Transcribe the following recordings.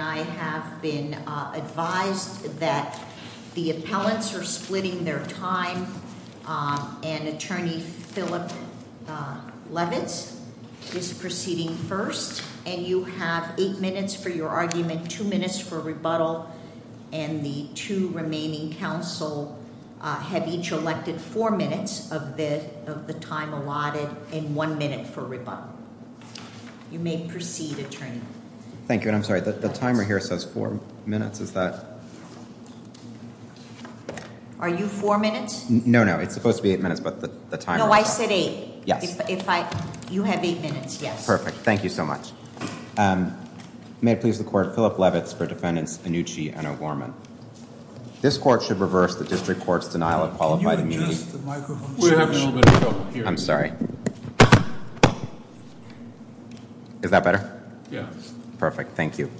I have been advised that the appellants are splitting their time and Attorney Philip Leavitt is proceeding first and you have 8 minutes for your argument, 2 minutes for rebuttal and the two remaining counsel have each elected 4 minutes of the time allotted and 1 minute for rebuttal. You may proceed, Attorney. Thank you, and I'm sorry, the timer here says 4 minutes, is that... Are you 4 minutes? No, no, it's supposed to be 8 minutes, but the timer... No, I said 8. Yeah. If I... you have 8 minutes, yes. Perfect, thank you so much. May I please record Philip Leavitt for defendants Anucci and O'Gorman. This court should reverse the district court's denial of qualified immunity... Can you adjust the microphone? I'm sorry. Is that better? Yeah. Perfect, thank you.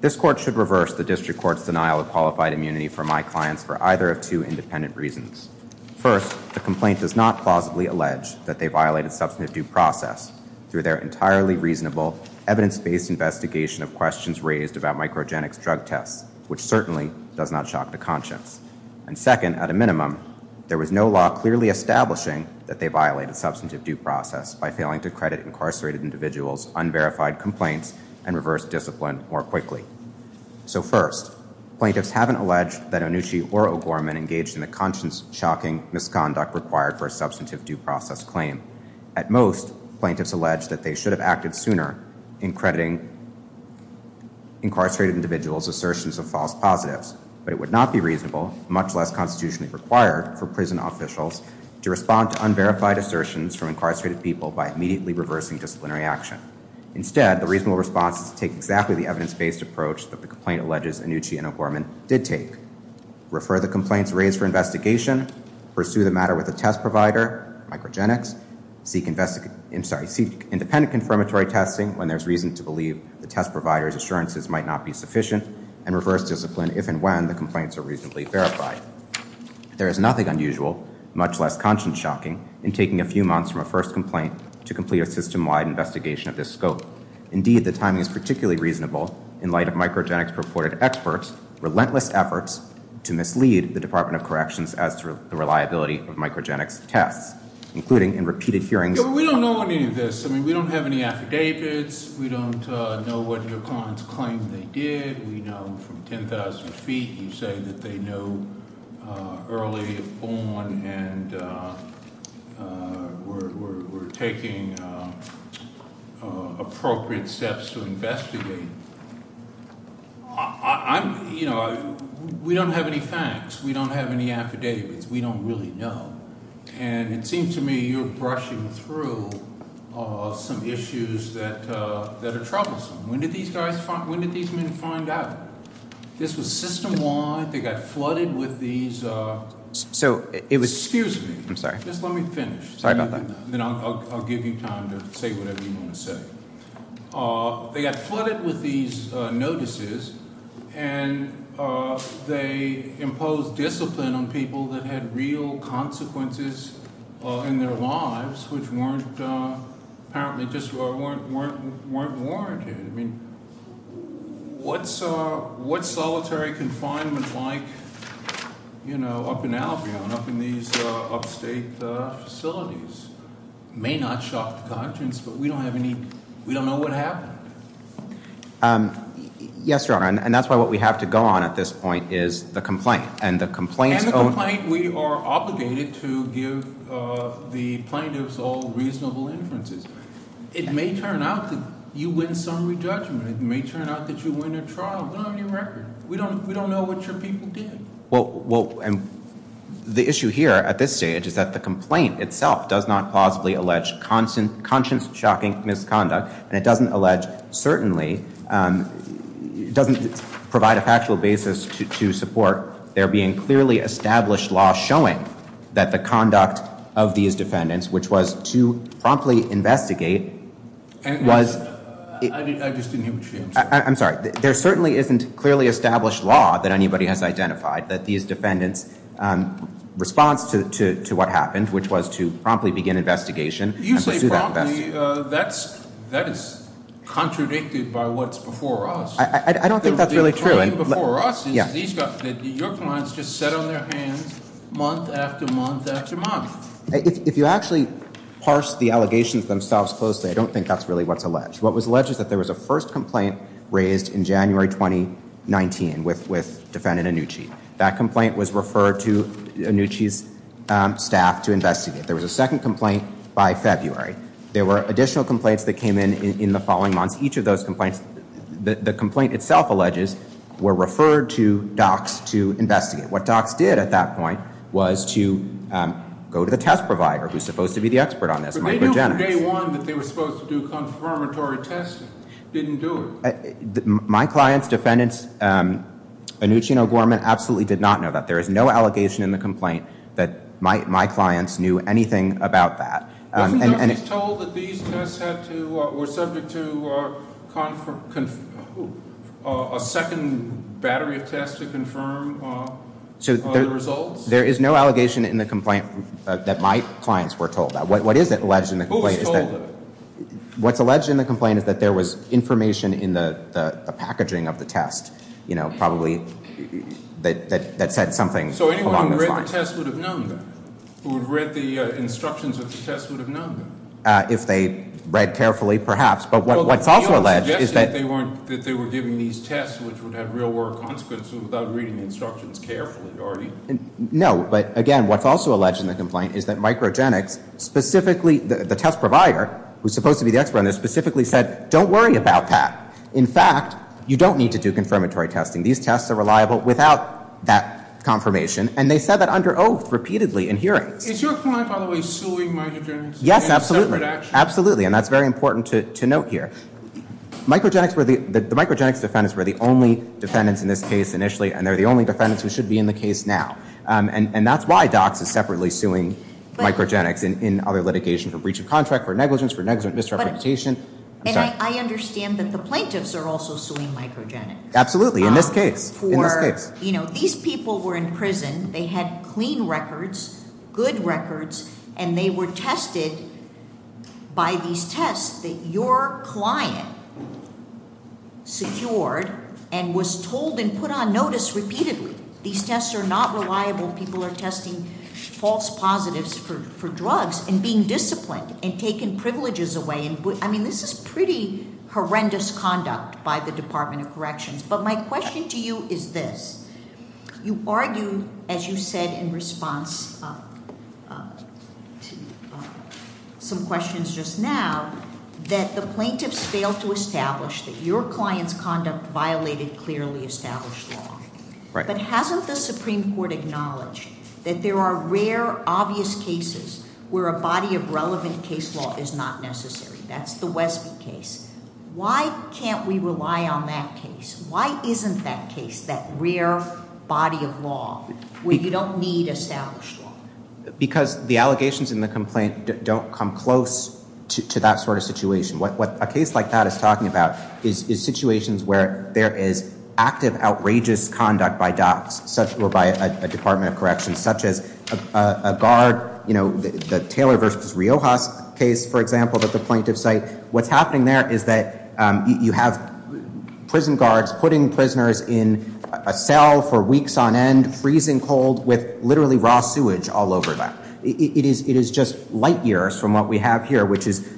This court should reverse the district court's denial of qualified immunity for my client for either of two independent reasons. First, the complaint does not plausibly allege that they violated substantive due process through their entirely reasonable evidence-based investigation of questions raised about microgenics drug tests, which certainly does not shock the conscience. And second, at a minimum, there was no law clearly establishing that they violated substantive due process by failing to credit incarcerated individuals' unverified complaints and reverse discipline more quickly. So first, plaintiffs haven't alleged that Anucci or O'Gorman engaged in the conscience-shocking misconduct required for a substantive due process claim. At most, plaintiffs allege that they should have acted sooner in crediting incarcerated individuals' assertions of false positives, but it would not be reasonable, much less constitutionally required, for prison officials to respond to unverified assertions from incarcerated people by immediately reversing disciplinary action. Instead, the reasonable response is to take exactly the evidence-based approach that the complaint alleges Anucci and O'Gorman did take, refer the complaints raised for investigation, pursue the matter with the test provider, microgenics, seek independent confirmatory testing when there's reason to believe the test provider's assurances might not be sufficient, and reverse discipline if and when the complaints are reasonably verified. There is nothing unusual, much less conscience-shocking, in taking a few months from a first complaint to complete a system-wide investigation of this scope. Indeed, the timing is particularly reasonable in light of microgenics-reported experts' relentless efforts to mislead the Department of Corrections as to the reliability of microgenics tests, including in repeated hearings... But we don't know any of this. I mean, we don't have any affidavits. We don't know what your clients claim they did. We know from 10,000 feet you say that they knew early on and were taking appropriate steps to investigate. We don't have any facts. We don't have any affidavits. We don't really know. And it seems to me you're brushing through some issues that are troublesome. When did these men find out? This was system-wide. They got flooded with these... So, excuse me. Just let me finish. Then I'll give you time to say whatever you want to say. They got flooded with these notices, and they imposed discipline on people that had real consequences in their lives, which weren't warranted. What's solitary confinement like up in Albion, up in these upstate facilities? It may not shock the conscience, but we don't know what happened. Yes, Your Honor, and that's why what we have to go on at this point is the complaint. And the complaint, we are obligated to give the plaintiffs all reasonable inferences. It may turn out that you win some re-judgment. It may turn out that you win a trial. We don't have your record. We don't know what your people did. Well, the issue here at this stage is that the complaint itself does not plausibly allege conscience-shocking misconduct, and it doesn't allege, certainly, doesn't provide a factual basis to support there being clearly established law showing that the conduct of these defendants, which was to promptly investigate, was... I just didn't hear you. I'm sorry. There certainly isn't clearly established law that anybody has identified that these defendants' response to what happened, which was to promptly begin investigation... That is contradicted by what's before us. I don't think that's really true. Your clients just sit on their hands month after month after month. If you actually parse the allegations themselves closely, I don't think that's really what's alleged. What was alleged is that there was a first complaint raised in January 2019 with Defendant Annucci. That complaint was referred to Annucci's staff to investigate. There was a second complaint by February. There were additional complaints that came in in the following months. Each of those complaints, the complaint itself alleges, were referred to DOCS to investigate. What DOCS did at that point was to go to the test provider, who's supposed to be the expert on this. But they knew from day one that they were supposed to do confirmatory testing. Didn't do it. My client's defendants, Annucci and O'Gorman, absolutely did not know that. There is no allegation in the complaint that my clients knew anything about that. There is no allegation in the complaint that my clients were told that. What's alleged in the complaint is that there was information in the packaging of the test, you know, probably, that said something along those lines. If they read carefully, perhaps. But what's also alleged is that... No, but again, what's also alleged in the complaint is that microgenics, specifically the test provider, who's supposed to be the expert on this, specifically said, don't worry about that. In fact, you don't need to do confirmatory testing. These tests are reliable without that confirmation. And they said that under oath, repeatedly, in hearing. Yes, absolutely. Absolutely, and that's very important to note here. The microgenics defendants were the only defendants in this case initially, and they're the only defendants who should be in the case now. And that's why DOCS is separately suing microgenics in other litigation for breach of contract, for negligence, for negligent misrepresentation. DOCS are also suing microgenics. Absolutely, in this case. You know, these people were in prison. They had clean records, good records, and they were tested by these tests that your client secured and was told and put on notice repeatedly. These tests are not reliable. People are testing false positives for drugs and being disciplined and taking privileges away. I mean, this is pretty horrendous conduct by the Department of Corrections. But my question to you is this. You argue, as you said in response to some questions just now, that the plaintiffs failed to establish that your client's conduct violated clearly established law. But hasn't the Supreme Court acknowledged that there are rare, obvious cases where a body of relevant case law is not necessary? That's the Westview case. Why can't we rely on that case? Why isn't that case, that rare body of law, where you don't need established law? Because the allegations in the complaint don't come close to that sort of situation. What a case like that is talking about is situations where there is active, outrageous conduct by DOCS or by the Department of Corrections, such as a guard, the Taylor v. Riojas case, for example, that the plaintiffs say. What's happening there is that you have prison guards putting prisoners in a cell for weeks on end, freezing cold, with literally raw sewage all over them. It is just light years from what we have here, which is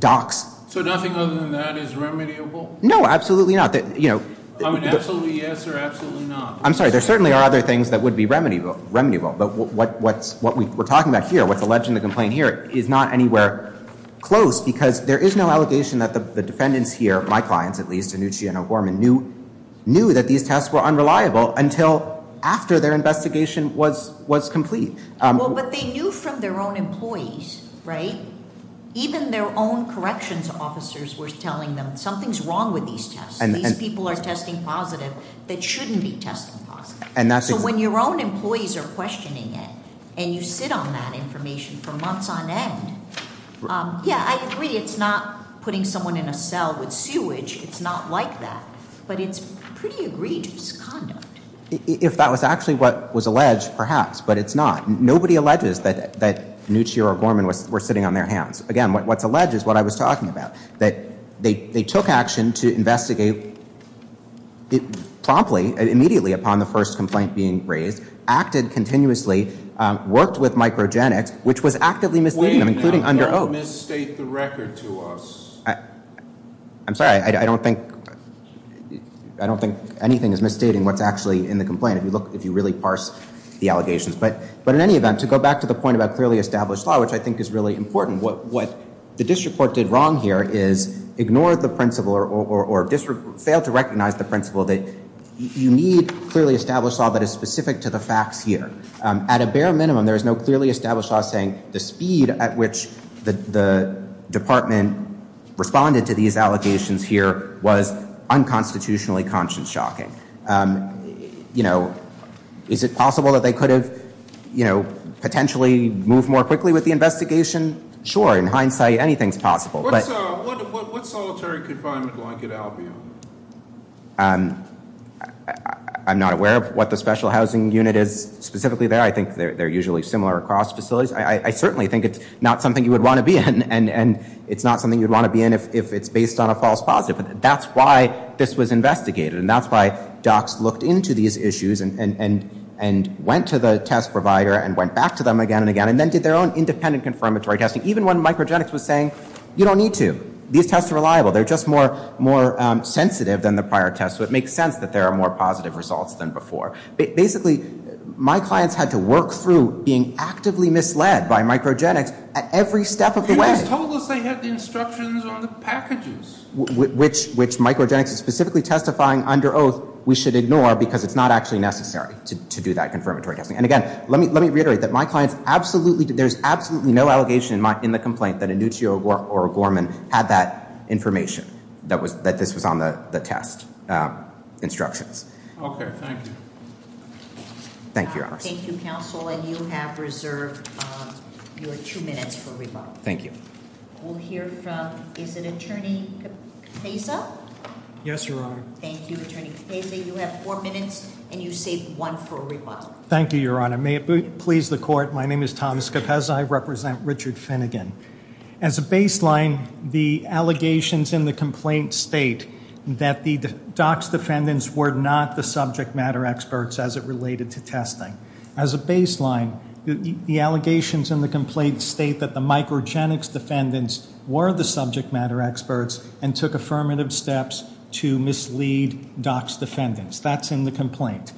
DOCS. So nothing other than that is remediable? No, absolutely not. I mean, absolutely yes or absolutely not. I'm sorry, there certainly are other things that would be remediable, but what we're talking about here, what the legend of the complaint here, is not anywhere close because there is no allegation that the defendants here, my clients at least, Annucci and O'Gorman, knew that these tests were unreliable until after their investigation was complete. Well, but they knew from their own employees, right? Even their own corrections officers were telling them, these people are testing positive that shouldn't be tested positive. So when your own employees are questioning it, and you sit on that information for months on end, yeah, I agree, it's not putting someone in a cell with sewage, it's not like that, but it's pretty egregious conduct. If that was actually what was alleged, perhaps, but it's not. Nobody alleges that Annucci or O'Gorman were sitting on their hands. Again, what's alleged is what I was talking about, that they took action to investigate promptly, immediately upon the first complaint being raised, acted continuously, worked with microgenics, which was actively misleading, including under oath. Wait, don't misstate the record to us. I'm sorry, I don't think anything is misstating what's actually in the complaint if you really parse the allegations. But in any event, to go back to the point about clearly established law, which I think is really important, what the district court did wrong here is ignored the principle or failed to recognize the principle that you need clearly established law that is specific to the fact here. At a bare minimum, there is no clearly established law saying the speed at which the department responded to these allegations here was unconstitutionally conscience-shocking. Is it possible that they could have potentially moved more quickly with the investigation? Sure, in hindsight, anything is possible. What solitary confinement line could Al be on? I'm not aware of what the special housing unit is specifically there. I think they're usually similar across facilities. I certainly think it's not something you would want to be in, and it's not something you'd want to be in if it's based on a false positive. That's why this was investigated, and that's why docs looked into these issues and went to the test provider and went back to them again and again and then did their own independent confirmatory testing, even when Microgenics was saying, you don't need to. These tests are reliable. They're just more sensitive than the prior tests, so it makes sense that there are more positive results than before. Basically, my clients had to work through being actively misled by Microgenics at every step of the way. They told us they had the instructions on the packages. Which Microgenics is specifically testifying under oath, we should ignore because it's not actually necessary to do that confirmatory testing. Again, let me reiterate that my client, there's absolutely no allegation in the complaint that a Nuccio or a Gorman had that information that this was on the test instructions. Okay, thank you. Thank you, Your Honor. Thank you, counsel, and you have reserved your two minutes for rebuttal. Thank you. We'll hear from, is it Attorney Queza? Yes, Your Honor. Thank you, Attorney Queza. You have four minutes, and you saved one for rebuttal. Thank you, Your Honor. May it please the court, my name is Thomas Queza. I represent Richard Finnegan. As a baseline, the allegations in the complaint state that the DOCS defendants were not the subject matter experts as it related to testing. As a baseline, the allegations in the complaint state that the Microgenics defendants were the subject matter experts and took affirmative steps to mislead DOCS defendants. That's in the complaint.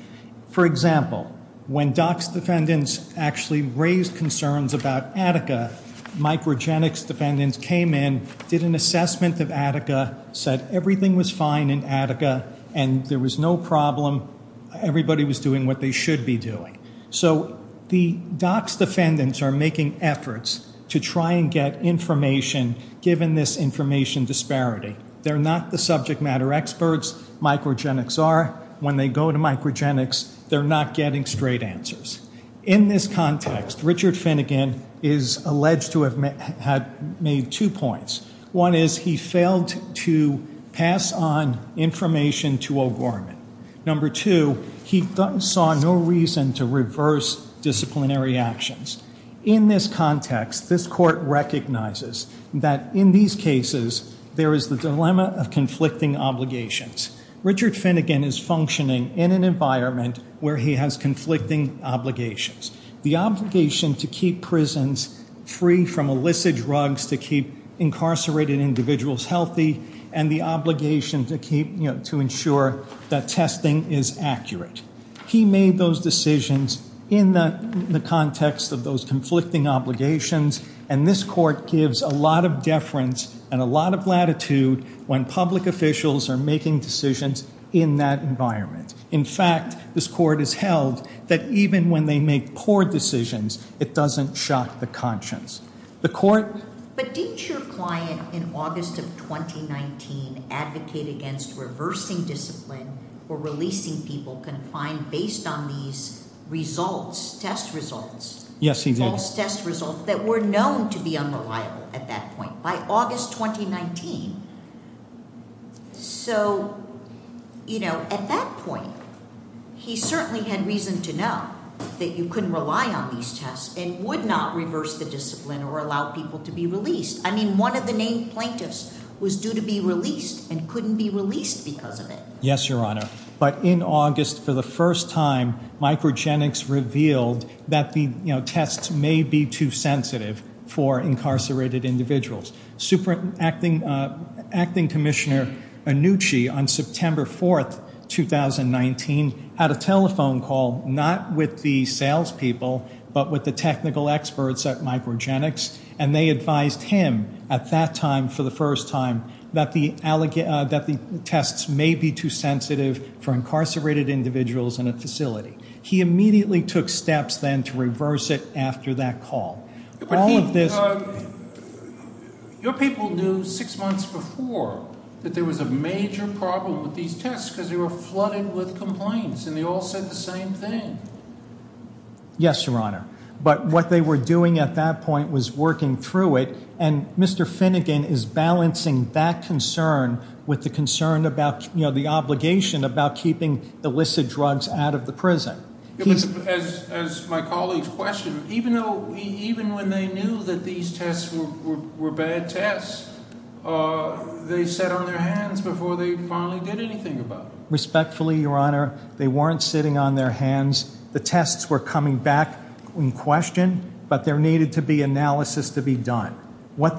For example, when DOCS defendants actually raised concerns about Attica, Microgenics defendants came in, did an assessment of Attica, said everything was fine in Attica and there was no problem, everybody was doing what they should be doing. So the DOCS defendants are making efforts to try and get information given this information disparity. They're not the subject matter experts, Microgenics are. When they go to Microgenics, they're not getting straight answers. In this context, Richard Finnegan is alleged to have made two points. One is he failed to pass on information to O'Gorman. Number two, he saw no reason to reverse disciplinary actions. In this context, this court recognizes that in these cases, there is the dilemma of conflicting obligations. Richard Finnegan is functioning in an environment where he has conflicting obligations. The obligation to keep prisons free from illicit drugs, to keep incarcerated individuals healthy, and the obligation to ensure that testing is accurate. He made those decisions in the context of those conflicting obligations, and this court gives a lot of deference and a lot of latitude when public officials are making decisions in that environment. In fact, this court has held that even when they make poor decisions, it doesn't shock the conscience. But didn't your client in August of 2019 advocate against reversing discipline or releasing people confined based on these results, test results? Yes, he did. Test results that were known to be unreliable at that point. By August 2019. So, you know, at that point, he certainly had reason to know that you couldn't rely on these tests and would not reverse the discipline or allow people to be released. I mean, one of the named plaintiffs was due to be released and couldn't be released because of it. Yes, Your Honor. But in August, for the first time, Microgenics revealed that the, you know, for incarcerated individuals. Acting Commissioner Annucci, on September 4th, 2019, had a telephone call, not with the salespeople, but with the technical experts at Microgenics, and they advised him at that time, for the first time, that the tests may be too sensitive for incarcerated individuals in a facility. He immediately took steps then to reverse it after that call. All of this... Your people knew six months before that there was a major problem with these tests because they were flooded with complaints and they all said the same thing. Yes, Your Honor. But what they were doing at that point was working through it, and Mr. Finnegan is balancing that concern with the concern about, you know, the obligation about keeping illicit drugs out of the prison. Respectfully, Your Honor, they weren't sitting on their hands. The tests were coming back in question, but there needed to be analysis to be done. And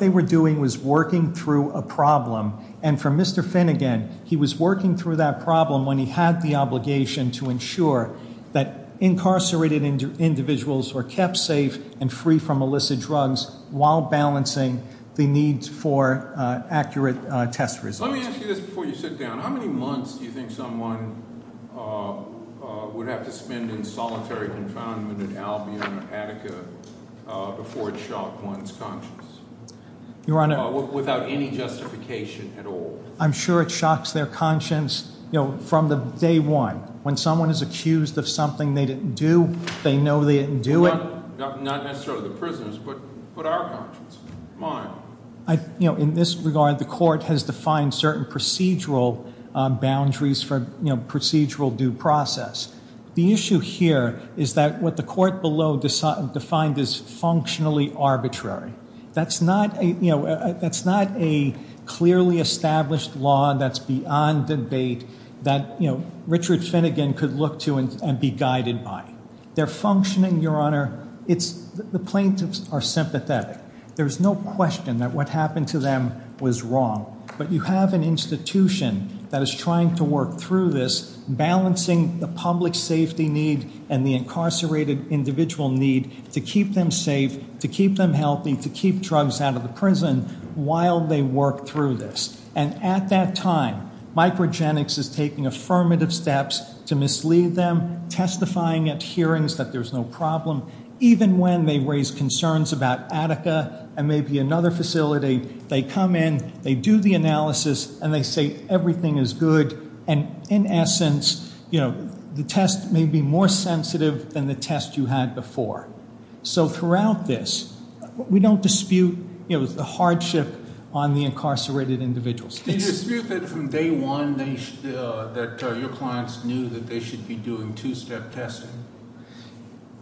for Mr. Finnegan, he was working through that problem when he had the obligation to ensure that incarcerated individuals were kept safe and free from illicit drugs while balancing the needs for accurate test results. Let me ask you this before you sit down. How many months do you think someone would have to spend in solitary confinement in Albion or Attica before it shocked one's conscience? Your Honor... Without any justification at all. I'm sure it shocks their conscience, you know, from day one. When someone is accused of something they didn't do, they know they didn't do it. Not necessarily the prisons, but our conscience, mine. In this regard, the court has defined certain procedural boundaries for procedural due process. The issue here is that what the court below defined as functionally arbitrary. That's not a clearly established law that's beyond debate that Richard Finnegan could look to and be guided by. They're functioning, Your Honor... The plaintiffs are sympathetic. There's no question that what happened to them was wrong. But you have an institution that is trying to work through this, balancing the public safety need and the incarcerated individual need to keep them safe, to keep them healthy, to keep drugs out of the prison while they work through this. And at that time, Microgenics is taking affirmative steps to mislead them, testifying at hearings that there's no problem, even when they raise concerns about Attica and maybe another facility. They come in, they do the analysis, and they say everything is good. And in essence, the test may be more sensitive than the test you had before. So throughout this, we don't dispute the hardship on the incarcerated individuals. Did you dispute that from day one that your clients knew that they should be doing two-step testing?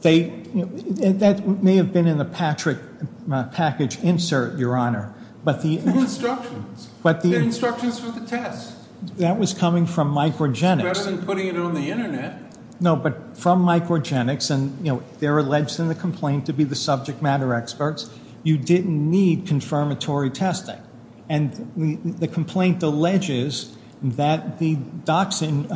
They... That may have been in a package insert, Your Honor. But the... Instructions. But the... Instructions for the test. That was coming from Microgenics. Rather than putting it on the internet. No, but from Microgenics, and, you know, they're alleging the complaint to be the subject matter experts. You didn't need confirmatory testing. And the complaint alleges that the doxing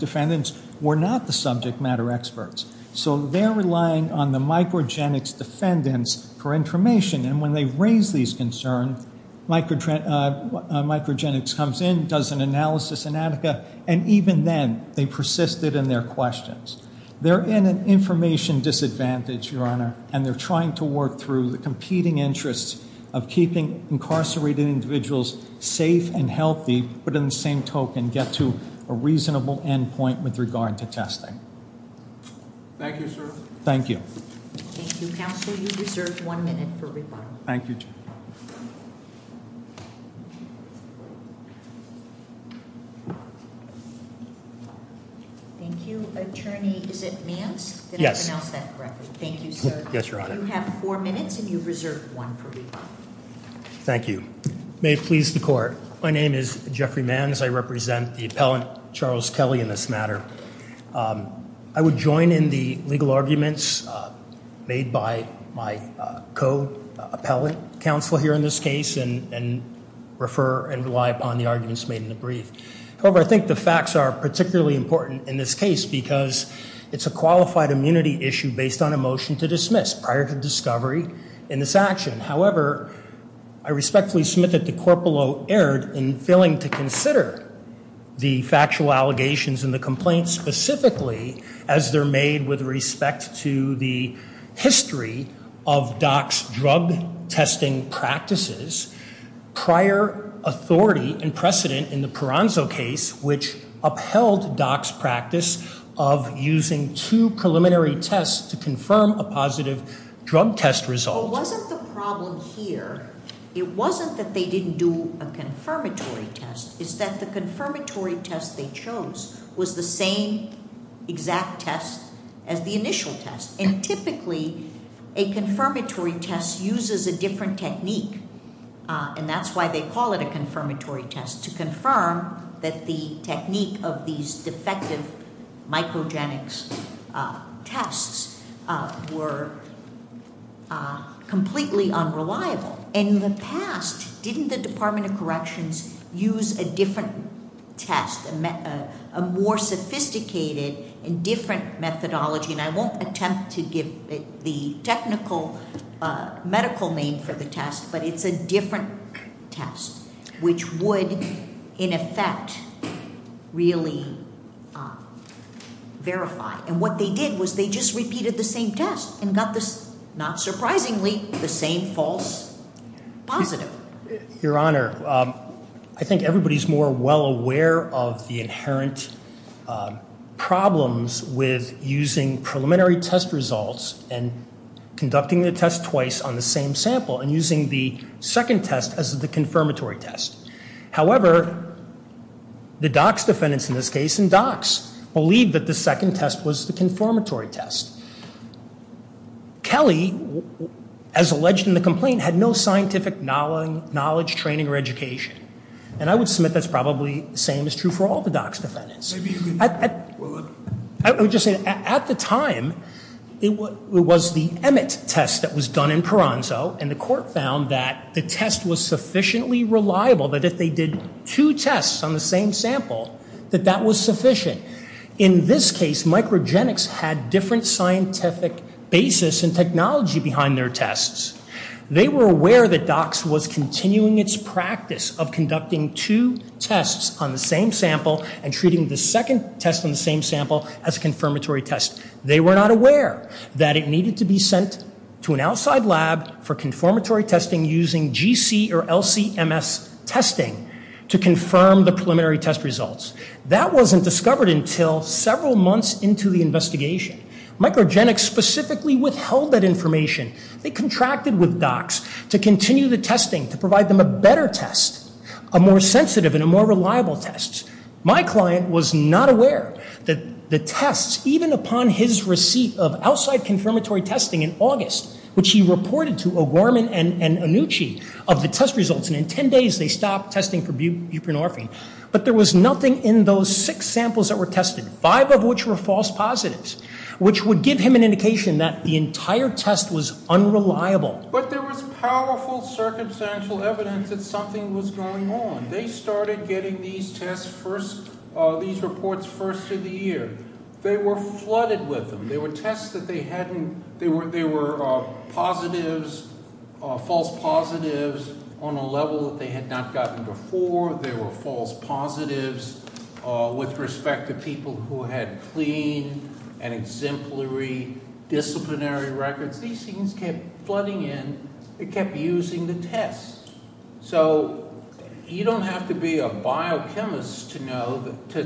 defendants were not the subject matter experts. So they're relying on the Microgenics defendants for information. And when they raise these concerns, Microgenics comes in, does an analysis in Attica, and even then, they persisted in their questions. They're in an information disadvantage, Your Honor, and they're trying to work through the competing interests of keeping incarcerated individuals safe and healthy, but in the same token, get to a reasonable endpoint with regard to testing. Thank you, sir. Thank you. Thank you, counsel. You've reserved one minute for rebuttal. Thank you. Thank you, attorney. Is it Nance? Yes. Did I pronounce that correctly? Thank you, sir. Yes, Your Honor. You have four minutes, and you've reserved one for rebuttal. Thank you. May it please the Court. My name is Jeffrey Nance. I represent the appellant, Charles Kelly, in this matter. I would join in the legal arguments made by my co-appellant, counsel here in this case, and refer and rely upon the arguments made in the brief. However, I think the facts are particularly important in this case because it's a qualified immunity issue based on a motion to dismiss prior to discovery in this action. However, I respectfully submit that the corporal erred in failing to consider the factual allegations and the complaints specifically, as they're made with respect to the history of Dock's drug-testing practices. Prior authority and precedent in the Peranzo case, which upheld Dock's practice of using two preliminary tests to confirm a positive drug-test result. So it wasn't the problem here. It wasn't that they didn't do a confirmatory test. It's that the confirmatory test they chose was the same exact test as the initial test. And typically, a confirmatory test uses a different technique, and that's why they call it a confirmatory test, to confirm that the technique of these defective mycogenics tests were completely unreliable. And in the past, didn't the Department of Corrections use a different test, a more sophisticated and different methodology? And I won't attempt to give the technical medical name for the test, but it's a different test, which would, in effect, really verify. And what they did was they just repeated the same test and got, not surprisingly, the same false positive. Your Honor, I think everybody's more well aware of the inherent problems with using preliminary test results and conducting the test twice on the same sample and using the second test as the confirmatory test. However, the Dock's defendants in this case, in Dock's, believed that the second test was the confirmatory test. Kelly, as alleged in the complaint, had no scientific knowledge, training, or education. And I would submit that's probably the same is true for all the Dock's defendants. I would just say, at the time, it was the Emmett test that was done in Paranso, and the court found that the test was sufficiently reliable that if they did two tests on the same sample, that that was sufficient. In this case, Microgenics had different scientific basis and technology behind their tests. They were aware that Dock's was continuing its practice of conducting two tests on the same sample and treating the second test on the same sample as a confirmatory test. They were not aware that it needed to be sent to an outside lab for confirmatory testing using GC or LC-MS testing to confirm the preliminary test results. That wasn't discovered until several months into the investigation. Microgenics specifically withheld that information. They contracted with Dock's to continue the testing to provide them a better test, a more sensitive and a more reliable test. My client was not aware that the test, even upon his receipt of outside confirmatory testing in August, which he reported to O'Gorman and Annucci of the test results, and in ten days they stopped testing for buprenorphine. But there was nothing in those six samples that were tested, five of which were false positives, which would give him an indication that the entire test was unreliable. But there was powerful circumstantial evidence that something was going on. They started getting these reports first through the year. They were flooded with them. There were tests that they hadn't... There were positives, false positives, on a level that they had not gotten before. There were false positives with respect to people who had clean and exemplary disciplinary records. These things kept flooding in. They kept using the tests. So you don't have to be a biochemist to know, to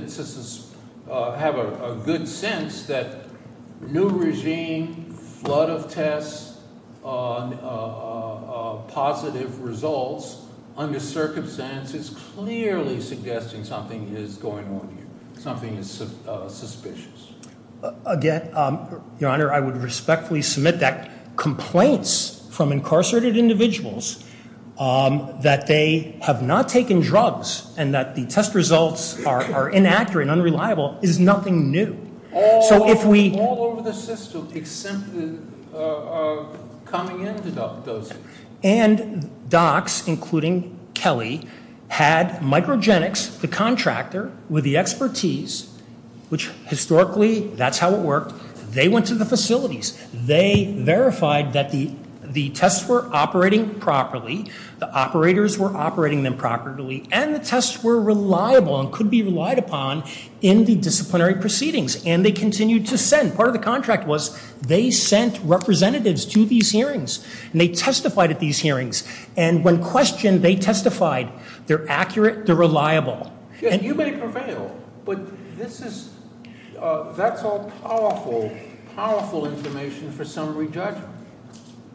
have a good sense, that new regime, flood of tests, positive results, under circumstances clearly suggesting something is going on here, something that's suspicious. Again, Your Honor, I would respectfully submit that complaints from incarcerated individuals that they have not taken drugs and that the test results are inaccurate and unreliable is nothing new. So if we... All over the system, except the coming in to doctors. And docs, including Kelly, had microgenics, the contractor, with the expertise, which historically, that's how it worked. They went to the facilities. They verified that the tests were operating properly, the operators were operating them properly, and the tests were reliable and could be relied upon in the disciplinary proceedings. And they continued to send. Part of the contract was, they sent representatives to these hearings. And they testified at these hearings. And when questioned, they testified. They're accurate. They're reliable. And you may prevail. But this is... That's all powerful, powerful information for some re-judgment.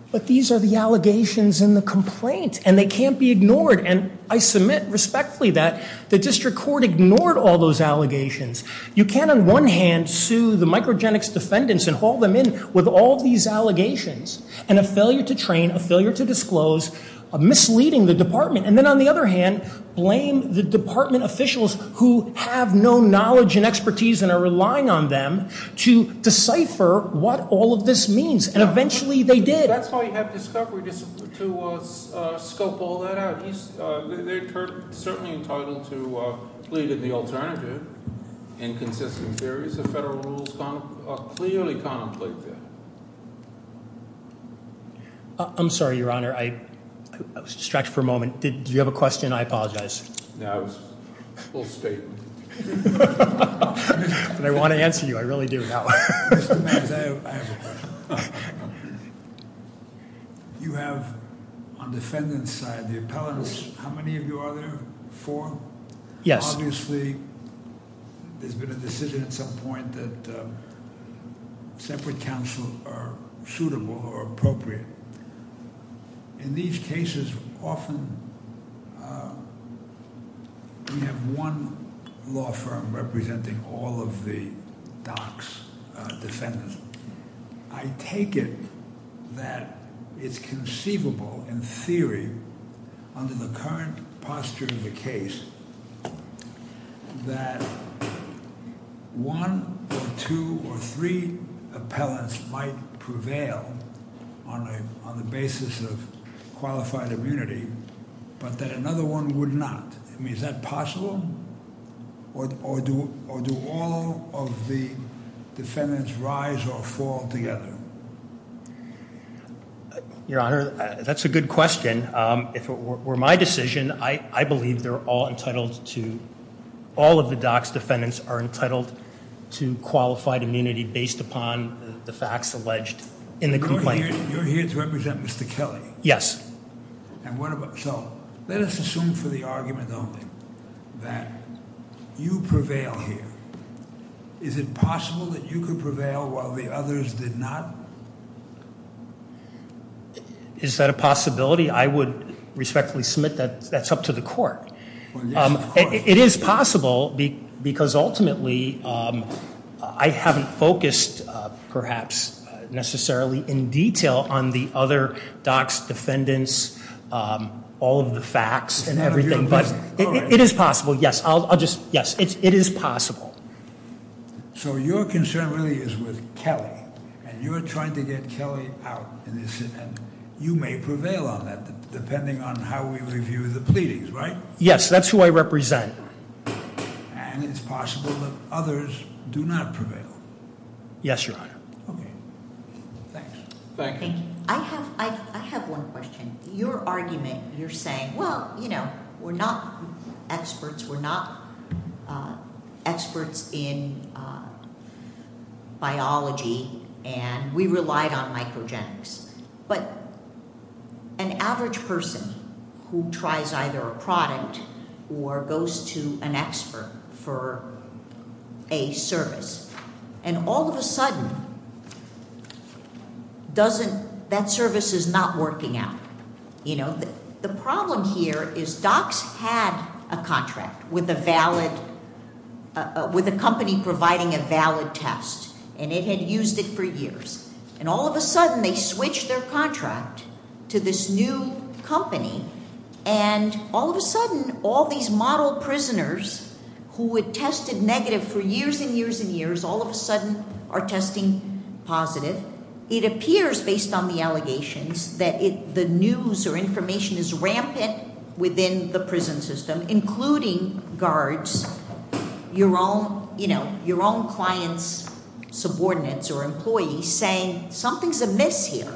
But these are the allegations in the complaint. And they can't be ignored. And I submit respectfully that the district court ignored all those allegations. You can't, on one hand, sue the microgenics defendants and haul them in with all these allegations and a failure to train, a failure to disclose, misleading the department, and then, on the other hand, blame the department officials who have no knowledge and expertise and are relying on them to decipher what all of this means. And eventually, they did. That's why you have to scope all that out. They're certainly entitled to plead as the alternative in consisting hearings. The federal rules clearly contemplate that. I'm sorry, Your Honor. I was distracted for a moment. Do you have a question? I apologize. No. Full statement. I want to answer you. I really do. I have a question. You have, on the defendant's side, the appellants. How many of you are there? Four? Yes. Obviously, there's been a decision at some point that separate counsel are suitable or appropriate. In these cases, often... I'm thinking of one law firm representing all of the DOC's defendants. I take it that it's conceivable, in theory, under the current posture in the case, that one, two, or three appellants might prevail on the basis of qualified immunity, but that another one would not. Is that possible? Or do all of the defendants rise or fall together? Your Honor, that's a good question. If it were my decision, I believe all of the DOC's defendants are entitled to qualified immunity based upon the facts alleged in the complaint. You're here to represent Mr. Kelly. Yes. So, let us assume for the argument, though, that you prevail here. Is it possible that you could prevail while the others did not? Is that a possibility? I would respectfully submit that that's up to the court. It is possible because, ultimately, I haven't focused, perhaps, necessarily in detail on the other DOC's defendants, all of the facts and everything, but it is possible, yes. I'll just, yes, it is possible. So, your concern really is with Kelly, and you're trying to get Kelly out in this, and you may prevail on that, depending on how we review the pleadings, right? Yes, that's who I represent. And it's possible that others do not prevail. Yes, Your Honor. Thank you. I have one question. Your argument, you're saying, well, you know, we're not experts, we're not experts in biology, and we relied on microgenics, but an average person who tries either a product or goes to an expert for a service, and all of a sudden, that service is not working out. You know, the problem here is DOC's had a contract with a company providing a valid test, and it had used it for years. And all of a sudden, they switched their contract to this new company, and all of a sudden, all these model prisoners who had tested negative for years and years and years, all of a sudden are testing positive. It appears, based on the allegations, that the news or information is rampant within the prison system, including guards, your own client's subordinates or employees, saying something's amiss here.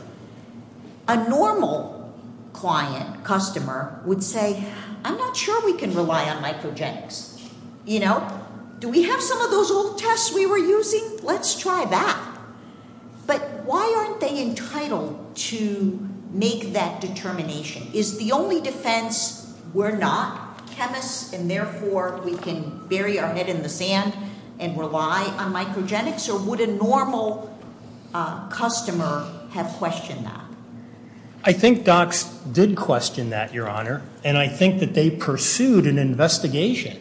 A normal client, customer, would say, I'm not sure we can rely on microgenics. You know, do we have some of those old tests we were using? Let's try that. But why aren't they entitled to make that determination? Is the only defense, we're not chemists, and therefore, we can bury our head in the sand and rely on microgenics, or would a normal customer have questioned that? I think DOC did question that, Your Honor, and I think that they pursued an investigation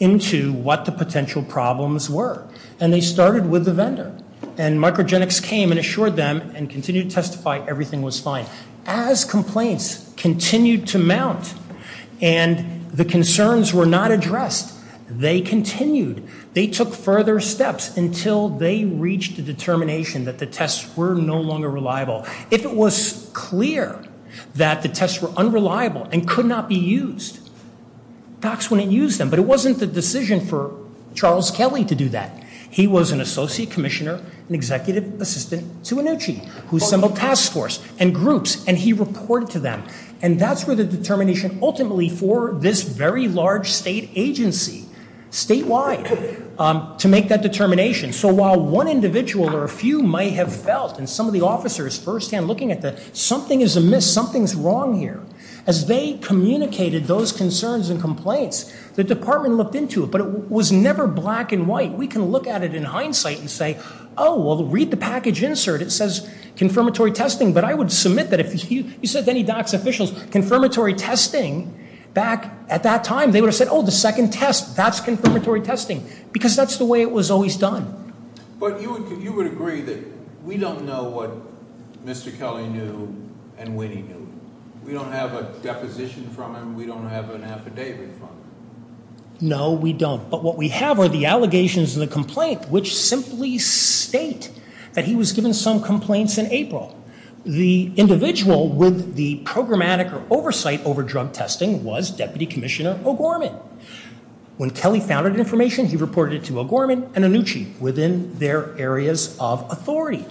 into what the potential problems were, and they started with the vendor, and microgenics came and assured them and continued to testify everything was fine. As complaints continued to mount and the concerns were not addressed, they continued, they took further steps until they reached a determination that the tests were no longer reliable. If it was clear that the tests were unreliable and could not be used, DOC's wouldn't use them, but it wasn't the decision for Charles Kelly to do that. He was an associate commissioner, an executive assistant to Annucci, who assembled task force and groups, and he reported to them, and that's where the determination ultimately for this very large state agency, statewide, to make that determination. So while one individual or a few might have felt, and some of the officers firsthand looking at this, something is amiss, something is wrong here, as they communicated those concerns and complaints, the department looked into it, but it was never black and white. We can look at it in hindsight and say, oh, well, read the package insert. It says confirmatory testing, but I would submit that if you said to any DOC's officials, confirmatory testing, back at that time, they would have said, oh, the second test, that's confirmatory testing, because that's the way it was always done. But you would agree that we don't know what Mr. Kelly knew and Whitney knew. We don't have a deposition from him, we don't have an affidavit from him. No, we don't, but what we have are the allegations and the complaint, which simply state that he was given some complaints in April. The individual with the programmatic oversight over drug testing was Deputy Commissioner O'Gorman. When Kelly found that information, he reported it to O'Gorman and Annucci within their areas of authority.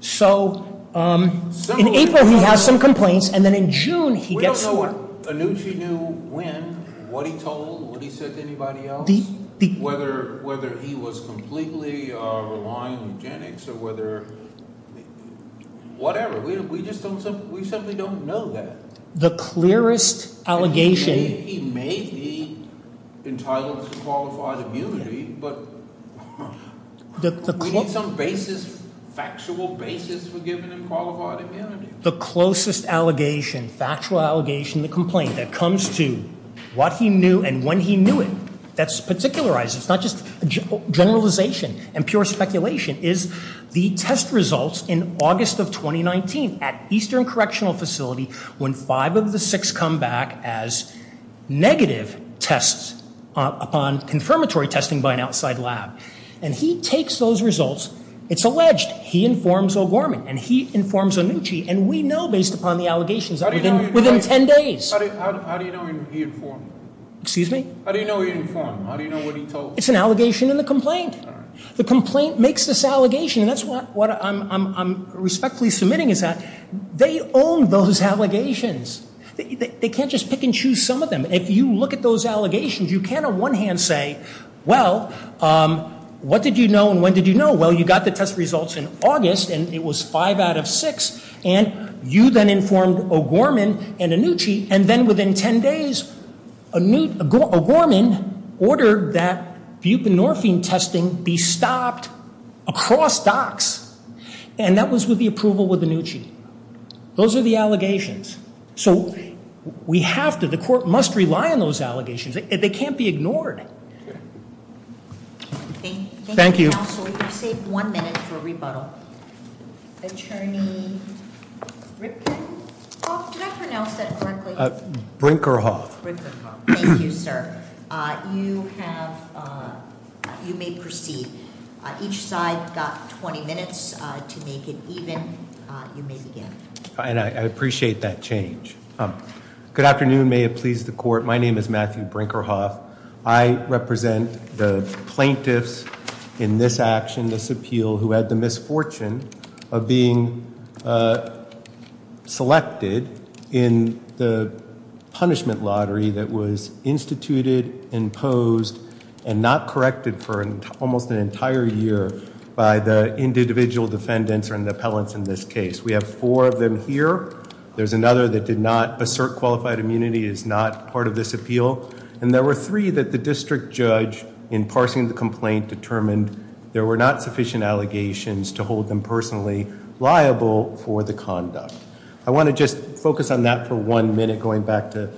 So in April, he has some complaints, and then in June, he gets some. We don't know what Annucci knew when, what he told, what he said to anybody else, whether he was completely relying on genetics, or whether, whatever. We just don't, we simply don't know that. The clearest allegation... He may be entitled to qualified immunity, but we need some basis, factual basis, for giving him qualified immunity. The closest allegation, factual allegation, the complaint that comes to what he knew and when he knew it, that's particularized, it's not just generalization and pure speculation, is the test results in August of 2019 at Eastern Correctional Facility when five of the six come back as negative tests on confirmatory testing by an outside lab. And he takes those results, it's alleged, he informs O'Gorman, and he informs Annucci, and we know based upon the allegations that within 10 days... How do you know he informed? Excuse me? How do you know he informed? How do you know what he told? It's an allegation in the complaint. The complaint makes this allegation, and that's what I'm respectfully submitting is that they own those allegations. They can't just pick and choose some of them. If you look at those allegations, you can't on one hand say, well, what did you know and when did you know? Well, you got the test results in August, and it was five out of six, and you then informed O'Gorman and Annucci, and then within 10 days, O'Gorman ordered that buprenorphine testing be stopped across docs, and that was with the approval of Annucci. Those are the allegations. So we have to, the court must rely on those allegations. They can't be ignored. Thank you. We have one minute for rebuttal. Attorney Rickman? Did I pronounce that correctly? Brinkerhoff. Thank you, sir. You may proceed. Each side's got 20 minutes to make it even. You may begin. I appreciate that change. Good afternoon. May it please the court. My name is Matthew Brinkerhoff. I represent the plaintiffs in this action, this appeal who had the misfortune of being selected in the punishment lottery that was instituted, imposed, and not corrected for almost an entire year by the individual defendants or the appellants in this case. We have four of them here. There's another that did not assert qualified immunity, is not part of this appeal. And there were three that the district judge, in parsing the complaint, determined there were not sufficient allegations to hold them personally liable for the conduct. I want to just focus on that for one minute, going back to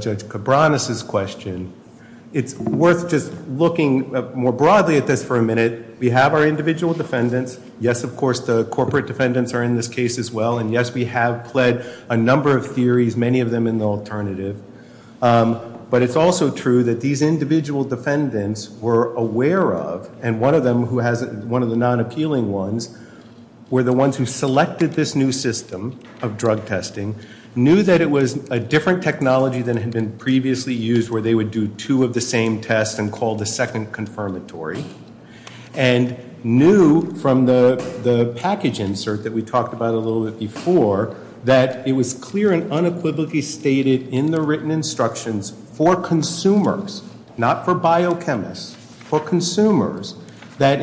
Judge Cabranes' question. It's worth just looking more broadly at this for a minute. We have our individual defendants. Yes, of course, the corporate defendants are in this case as well. And yes, we have pled a number of theories, many of them in the alternative. But it's also true that these individual defendants were aware of, and one of them who has one of the non-appealing ones were the ones who selected this new system of drug testing, knew that it was a different technology than had been previously used, where they would do two of the same tests and call the second confirmatory, and knew from the package insert that we talked about a little bit before that it was clear and unequivocally stated in the written instructions for consumers, not for biochemists, for consumers, that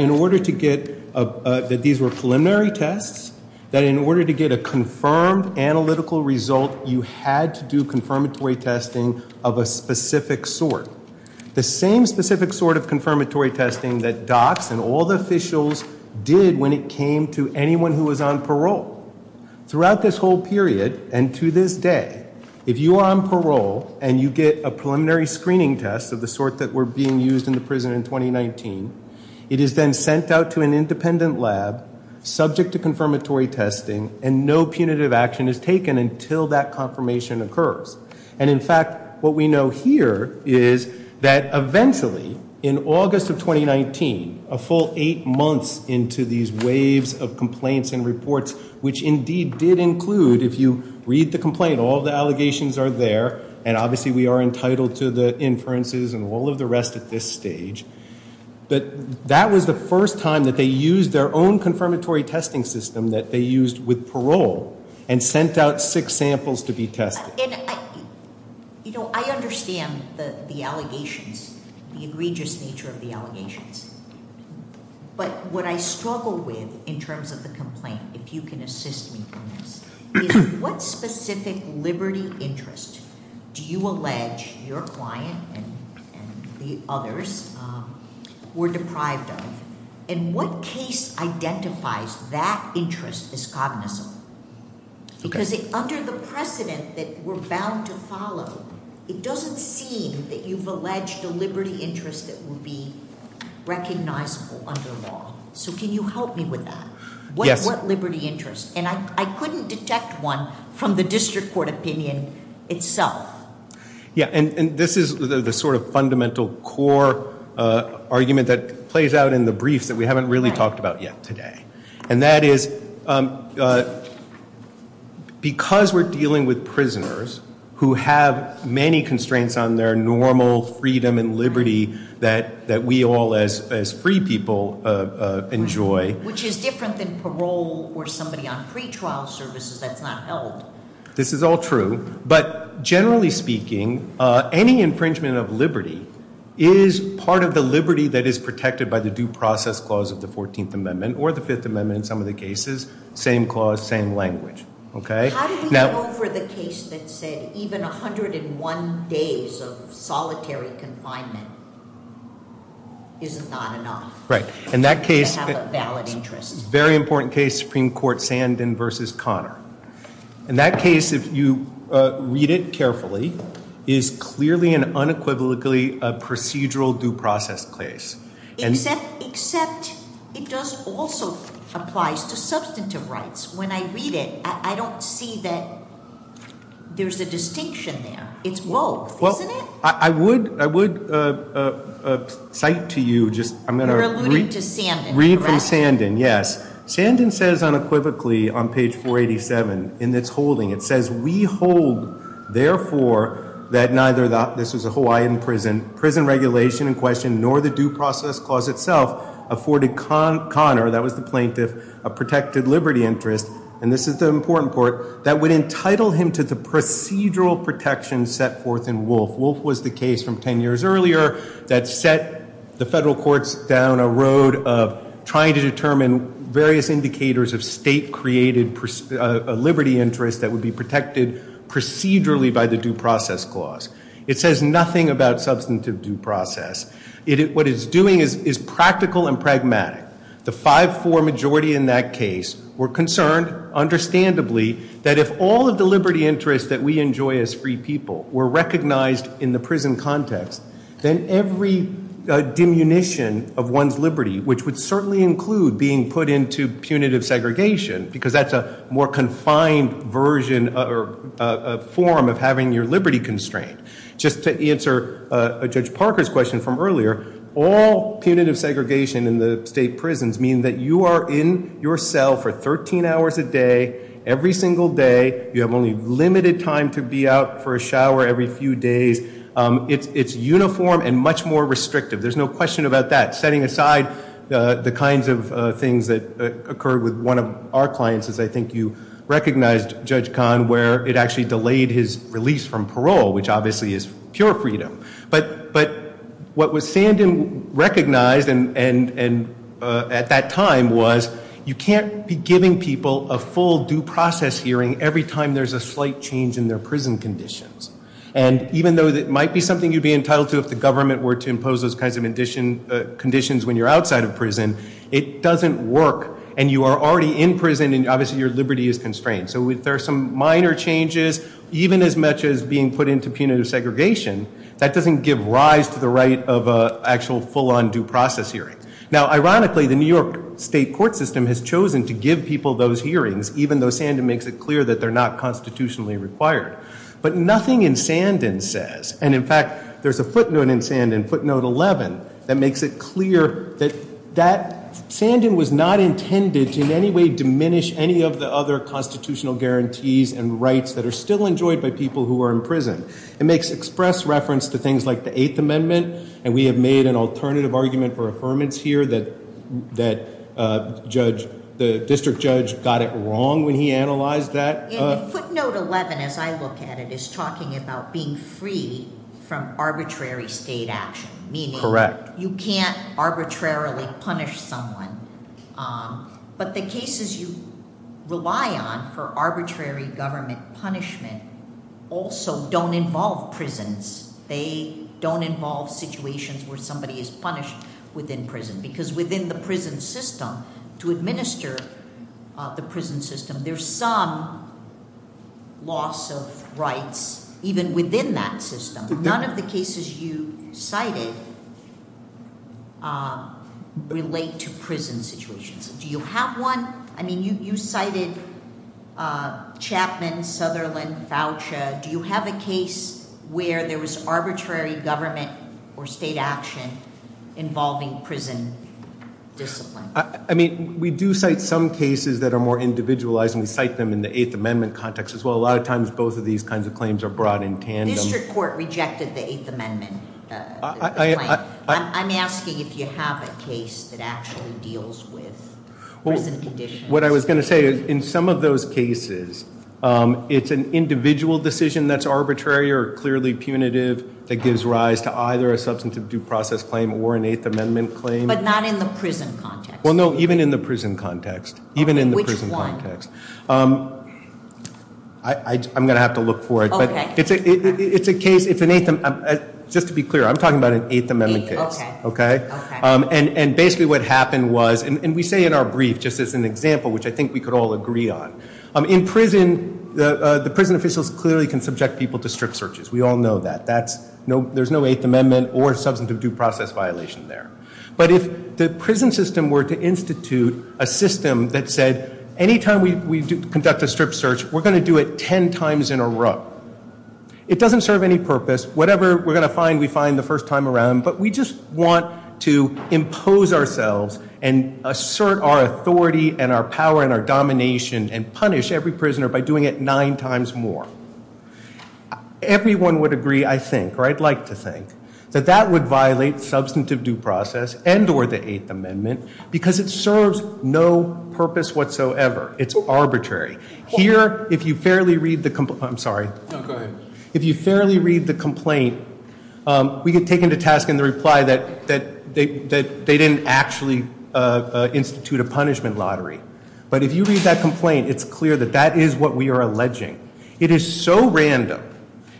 these were preliminary tests, that in order to get a confirmed analytical result, you had to do confirmatory testing of a specific sort. The same specific sort of confirmatory testing that docs and all the officials did when it came to anyone who was on parole. Throughout this whole period, and to this day, if you are on parole and you get a preliminary screening test of the sort that were being used in the prison in 2019, it has been sent out to an independent lab, subject to confirmatory testing, and no punitive action is taken until that confirmation occurs. And in fact, what we know here is that eventually, in August of 2019, a full eight months into these waves of complaints and reports, which indeed did include, if you read the complaint, all the allegations are there. And obviously, we are entitled to the inferences and all of the rest at this stage. But that was the first time that they used their own confirmatory testing system that they used with parole and sent out six samples to be tested. You know, I understand the allegations, But what I struggle with in terms of the complaint, if you can assist me on this, is what specific liberty interest do you allege your client and the others were deprived of? And what case identifies that interest as cognizant? Because under the precedent that we're bound to follow, it doesn't seem that you've alleged a liberty interest that would be recognizable under law. So can you help me with that? What liberty interest? And I couldn't detect one from the district court opinion itself. Yeah. And this is the sort of fundamental core argument that plays out in the brief that we haven't really talked about yet today. And that is, because we're dealing with prisoners who have many constraints on their normal freedom and liberty that we all, as free people, enjoy. Which is different than parole or somebody on pretrial services that's not held. This is all true. But generally speaking, any infringement of liberty is part of the liberty that is protected by the due process clause of the 14th Amendment, or the Fifth Amendment in some of the cases. Same clause, same language. How do you go for the case that say, even 101 days of solitary confinement is not enough? Right. In that case, very important case, Supreme Court Sandin versus Conner. In that case, if you read it carefully, it is clearly and unequivocally a procedural due process case. Except it does also apply to substantive rights. When I read it, I don't see that there's a distinction there. It's both. Well, I would cite to you just, I'm Read from Sandin, yes. Sandin says unequivocally on page 487 in its holding, it says, we hold, therefore, that neither the, this is a Hawaiian prison, prison regulation in question, nor the due process clause itself afforded Conner, that was the plaintiff, a protected liberty interest, and this is the important part, that would entitle him to the procedural protection set forth in Wolfe. Wolfe was the case from 10 years earlier that set the federal courts down a road of trying to determine various indicators of state-created liberty interest that would be protected procedurally by the due process clause. It says nothing about substantive due process. What it's doing is practical and pragmatic. The 5-4 majority in that case were concerned, understandably, that if all of the liberty interests that we enjoy as free people were recognized in the prison context, then every diminution of one's liberty, which would certainly include being put into punitive segregation, because that's a more confined version or form of having your liberty constraint. Just to answer Judge Parker's question from earlier, all punitive segregation in the state prisons mean that you are in your cell for 13 hours a day, every single day. You have only limited time to be out for a shower every few days. It's uniform and much more restrictive. There's no question about that. Setting aside the kinds of things that occur with one of our clients is I think you recognized Judge Kahn, where it actually delayed his release from parole, which obviously is pure freedom. But what was Sandin recognized at that time was you can't be giving people a full due process hearing every time there's a slight change in their prison conditions. And even though it might be something you'd be entitled to if the government were to impose those kinds of conditions when you're outside of prison, it doesn't work. And you are already in prison and obviously your liberty is constrained. So there are some minor changes. Even as much as being put into punitive segregation, that doesn't give rise to the right of an actual full on due process hearing. Now ironically, the New York state court system has chosen to give people those hearings, even though Sandin makes it clear that they're not constitutionally required. But nothing in Sandin says, and in fact, there's a footnote in Sandin, footnote 11, that makes it clear that Sandin was not intended to in any way diminish any of the other constitutional guarantees and rights that are still enjoyed by people who are in prison. It makes express reference to things like the Eighth Amendment. And we have made an alternative argument for affirmance here that the district judge got it wrong when he analyzed that. Footnote 11, as I look at it, is talking about being free from arbitrary state action, meaning you can't arbitrarily punish someone. But the cases you rely on for arbitrary government punishment also don't involve prisons. They don't involve situations where somebody is punished within prison. Because within the prison system, to administer the prison system, there's some loss of rights even within that system. None of the cases you cited relate to prison situations. Do you have one? I mean, you cited Chapman, Sutherland, Fauci. Do you have a case where there was arbitrary government or state action involving prison discipline? I mean, we do cite some cases that are more individualized. And we cite them in the Eighth Amendment context as well. A lot of times, both of these kinds of claims are brought in tandem. The district court rejected the Eighth Amendment. I'm asking if you have a case that actually deals with prison conditions. Well, what I was going to say is in some of those cases, it's an individual decision that's arbitrary or clearly punitive that gives rise to either a substantive due process claim or an Eighth Amendment claim. But not in the prison context. Well, no. Even in the prison context. Even in the prison context. Which one? I'm going to have to look for it. It's a case. It's an Eighth Amendment. Just to be clear, I'm talking about an Eighth Amendment case. OK. And basically what happened was, and we say in our brief, just as an example, which I think we could all agree on. In prison, the prison officials clearly can subject people to strict searches. We all know that. There's no Eighth Amendment or substantive due process violation there. But if the prison system were to institute a system that said, any time we conduct a strict search, we're going to do it 10 times in a row. It doesn't serve any purpose. Whatever we're going to find, we find the first time around. But we just want to impose ourselves and assert our authority and our power and our domination and punish every prisoner by doing it nine times more. Everyone would agree, I think, or I'd like to think, that that would violate substantive due process and or the Eighth Amendment because it serves no purpose whatsoever. It's arbitrary. Here, if you fairly read the complaint, we get taken to task in the reply that they didn't actually institute a punishment lottery. But if you read that complaint, it's clear that that is what we are alleging. It is so random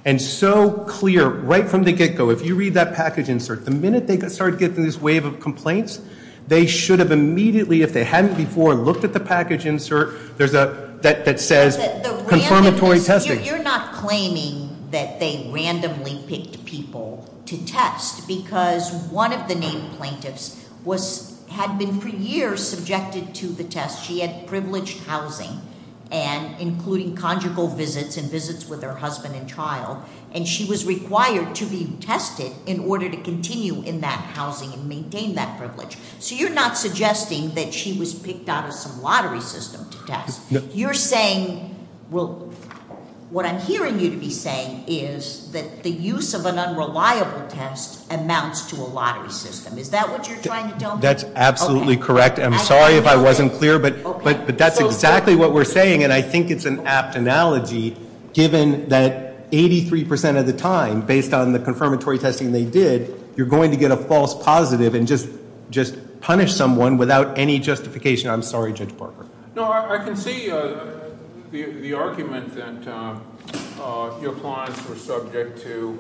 and so clear right from the get-go. If you read that package insert, the minute they start getting this wave of complaints, they should have immediately, if they hadn't before, looked at the package insert that says, confirmatory testing. You're not claiming that they randomly picked people to test because one of the named plaintiffs had been for years subjected to the test. She had privileged housing, including conjugal visits and visits with her husband and child. And she was required to be tested in order to continue in that housing and maintain that privilege. So you're not suggesting that she was picked out of some lottery system to test. You're saying, well, what I'm hearing you be saying is that the use of an unreliable test amounts to a lottery system. Is that what you're trying to tell me? That's absolutely correct. I'm sorry if I wasn't clear, but that's exactly what we're saying. And I think it's an apt analogy, given that 83% of the time, based on the confirmatory testing they did, you're going to get a false positive and just punish someone without any justification. I'm sorry, Judge Barker. No, I can see the argument that your clients were subject to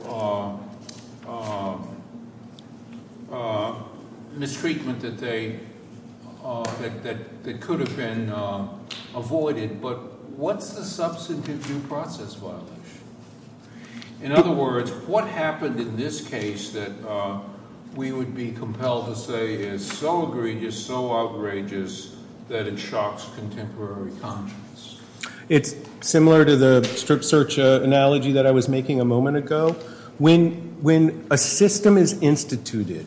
the treatment that could have been avoided. But what's the substantive due process like? In other words, what happened in this case that we would be compelled to say is so egregious, so outrageous, that it shocks contemporary conscience? It's similar to the strict search analogy that I was making a moment ago. When a system is instituted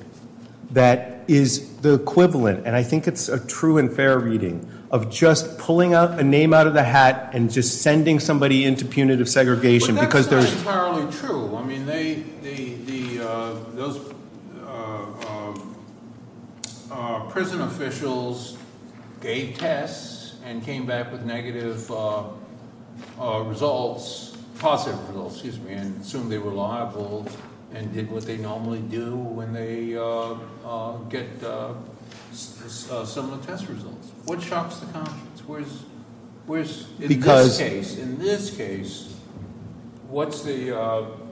that is the equivalent, and I think it's a true and fair reading, of just pulling a name out of the hat and just sending somebody into punitive segregation because there's- Well, that's not entirely true. I mean, those prison officials gave tests and came back with negative results, positive results, excuse me, and assumed they were liable and did what they normally do when they get similar test results. What shocks the conscience? Because in this case, what's the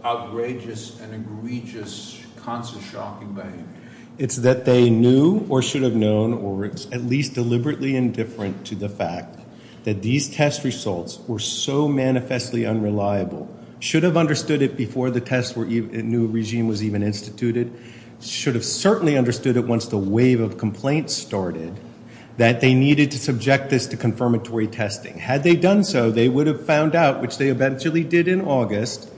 outrageous and egregious constant shocking thing? It's that they knew or should have known or at least deliberately indifferent to the fact that these test results were so manifestly unreliable, should have understood it before the test regime was even instituted, should have certainly understood it once the wave of complaints started that they needed to subject this to confirmatory testing. Had they done so, they would have found out, which they eventually did in August,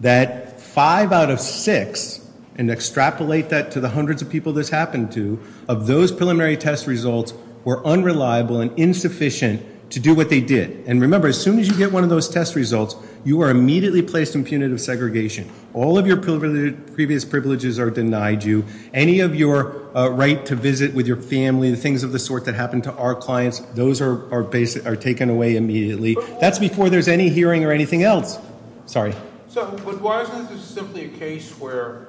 that five out of six, and extrapolate that to the hundreds of people this happened to, of those preliminary test results were unreliable and insufficient to do what they did. And remember, as soon as you get one of those test results, you are immediately placed in punitive segregation. All of your previous privileges are denied you. Any of your right to visit with your family and things of the sort that happened to our clients, those are taken away immediately. That's before there's any hearing or anything else. Sorry. So, but why isn't this simply a case where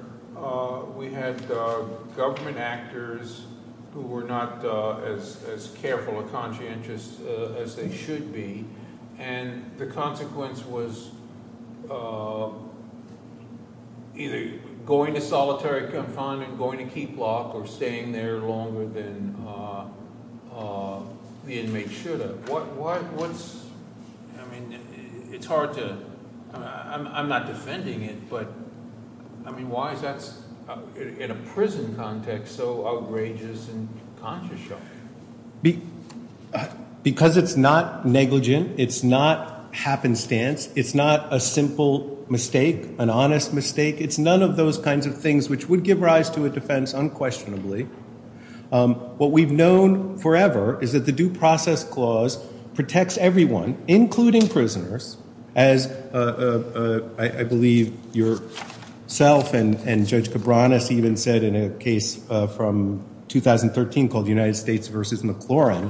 we had government actors who were not as careful or conscientious as they should be, and the consequence was either going to solitary confinement, going to keep lock, or staying there longer than the inmates should have. What's, I mean, it's hard to, I'm not defending it, but, I mean, why is that, in a prison context, so outrageous and contrived? Because it's not negligent. It's not happenstance. It's not a simple mistake, an honest mistake. It's none of those kinds of things which would give rise to a defense unquestionably. What we've known forever is that the due process clause protects everyone, including prisoners, as I believe yourself and Judge Cabranes even said in a case from 2013 called United States versus McClurin.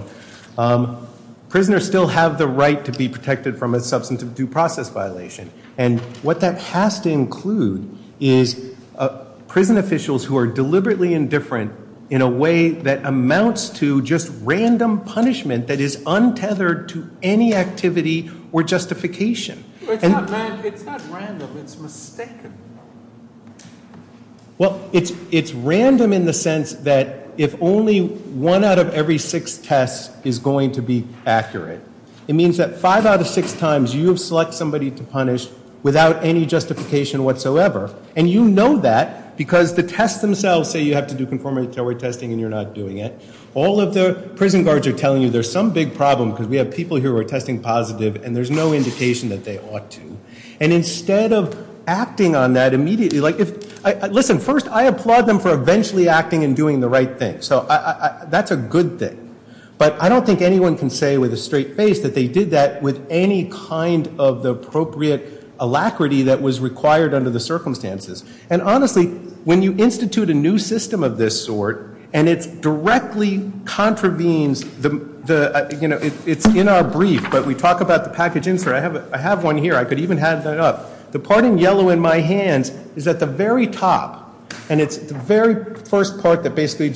Prisoners still have the right to be protected from a substance of due process violation. And what that has to include is prison officials who are deliberately indifferent in a way that amounts to just random punishment that is untethered to any activity or justification. But it's not random. It's not random. It's a mistake. Well, it's random in the sense that if only one out of every six tests is going to be accurate, it means that five out of six times, you select somebody to punish without any justification whatsoever. And you know that, because the tests themselves say you have to do conformity test and you're not doing it. All of the prison guards are telling you there's some big problem, because we have people who are testing positive and there's no indication that they ought to. And instead of acting on that immediately, like, listen, first I applaud them for eventually acting and doing the right thing. So that's a good thing. But I don't think anyone can say with a straight face that they did that with any kind of the appropriate alacrity that was required under the circumstances. And honestly, when you institute a new system of this sort and it directly contravenes the, you know, it's in our brief, but we talk about the package info. I have one here. I could even have that up. The part in yellow in my hand is at the very top. And it's the very first part that basically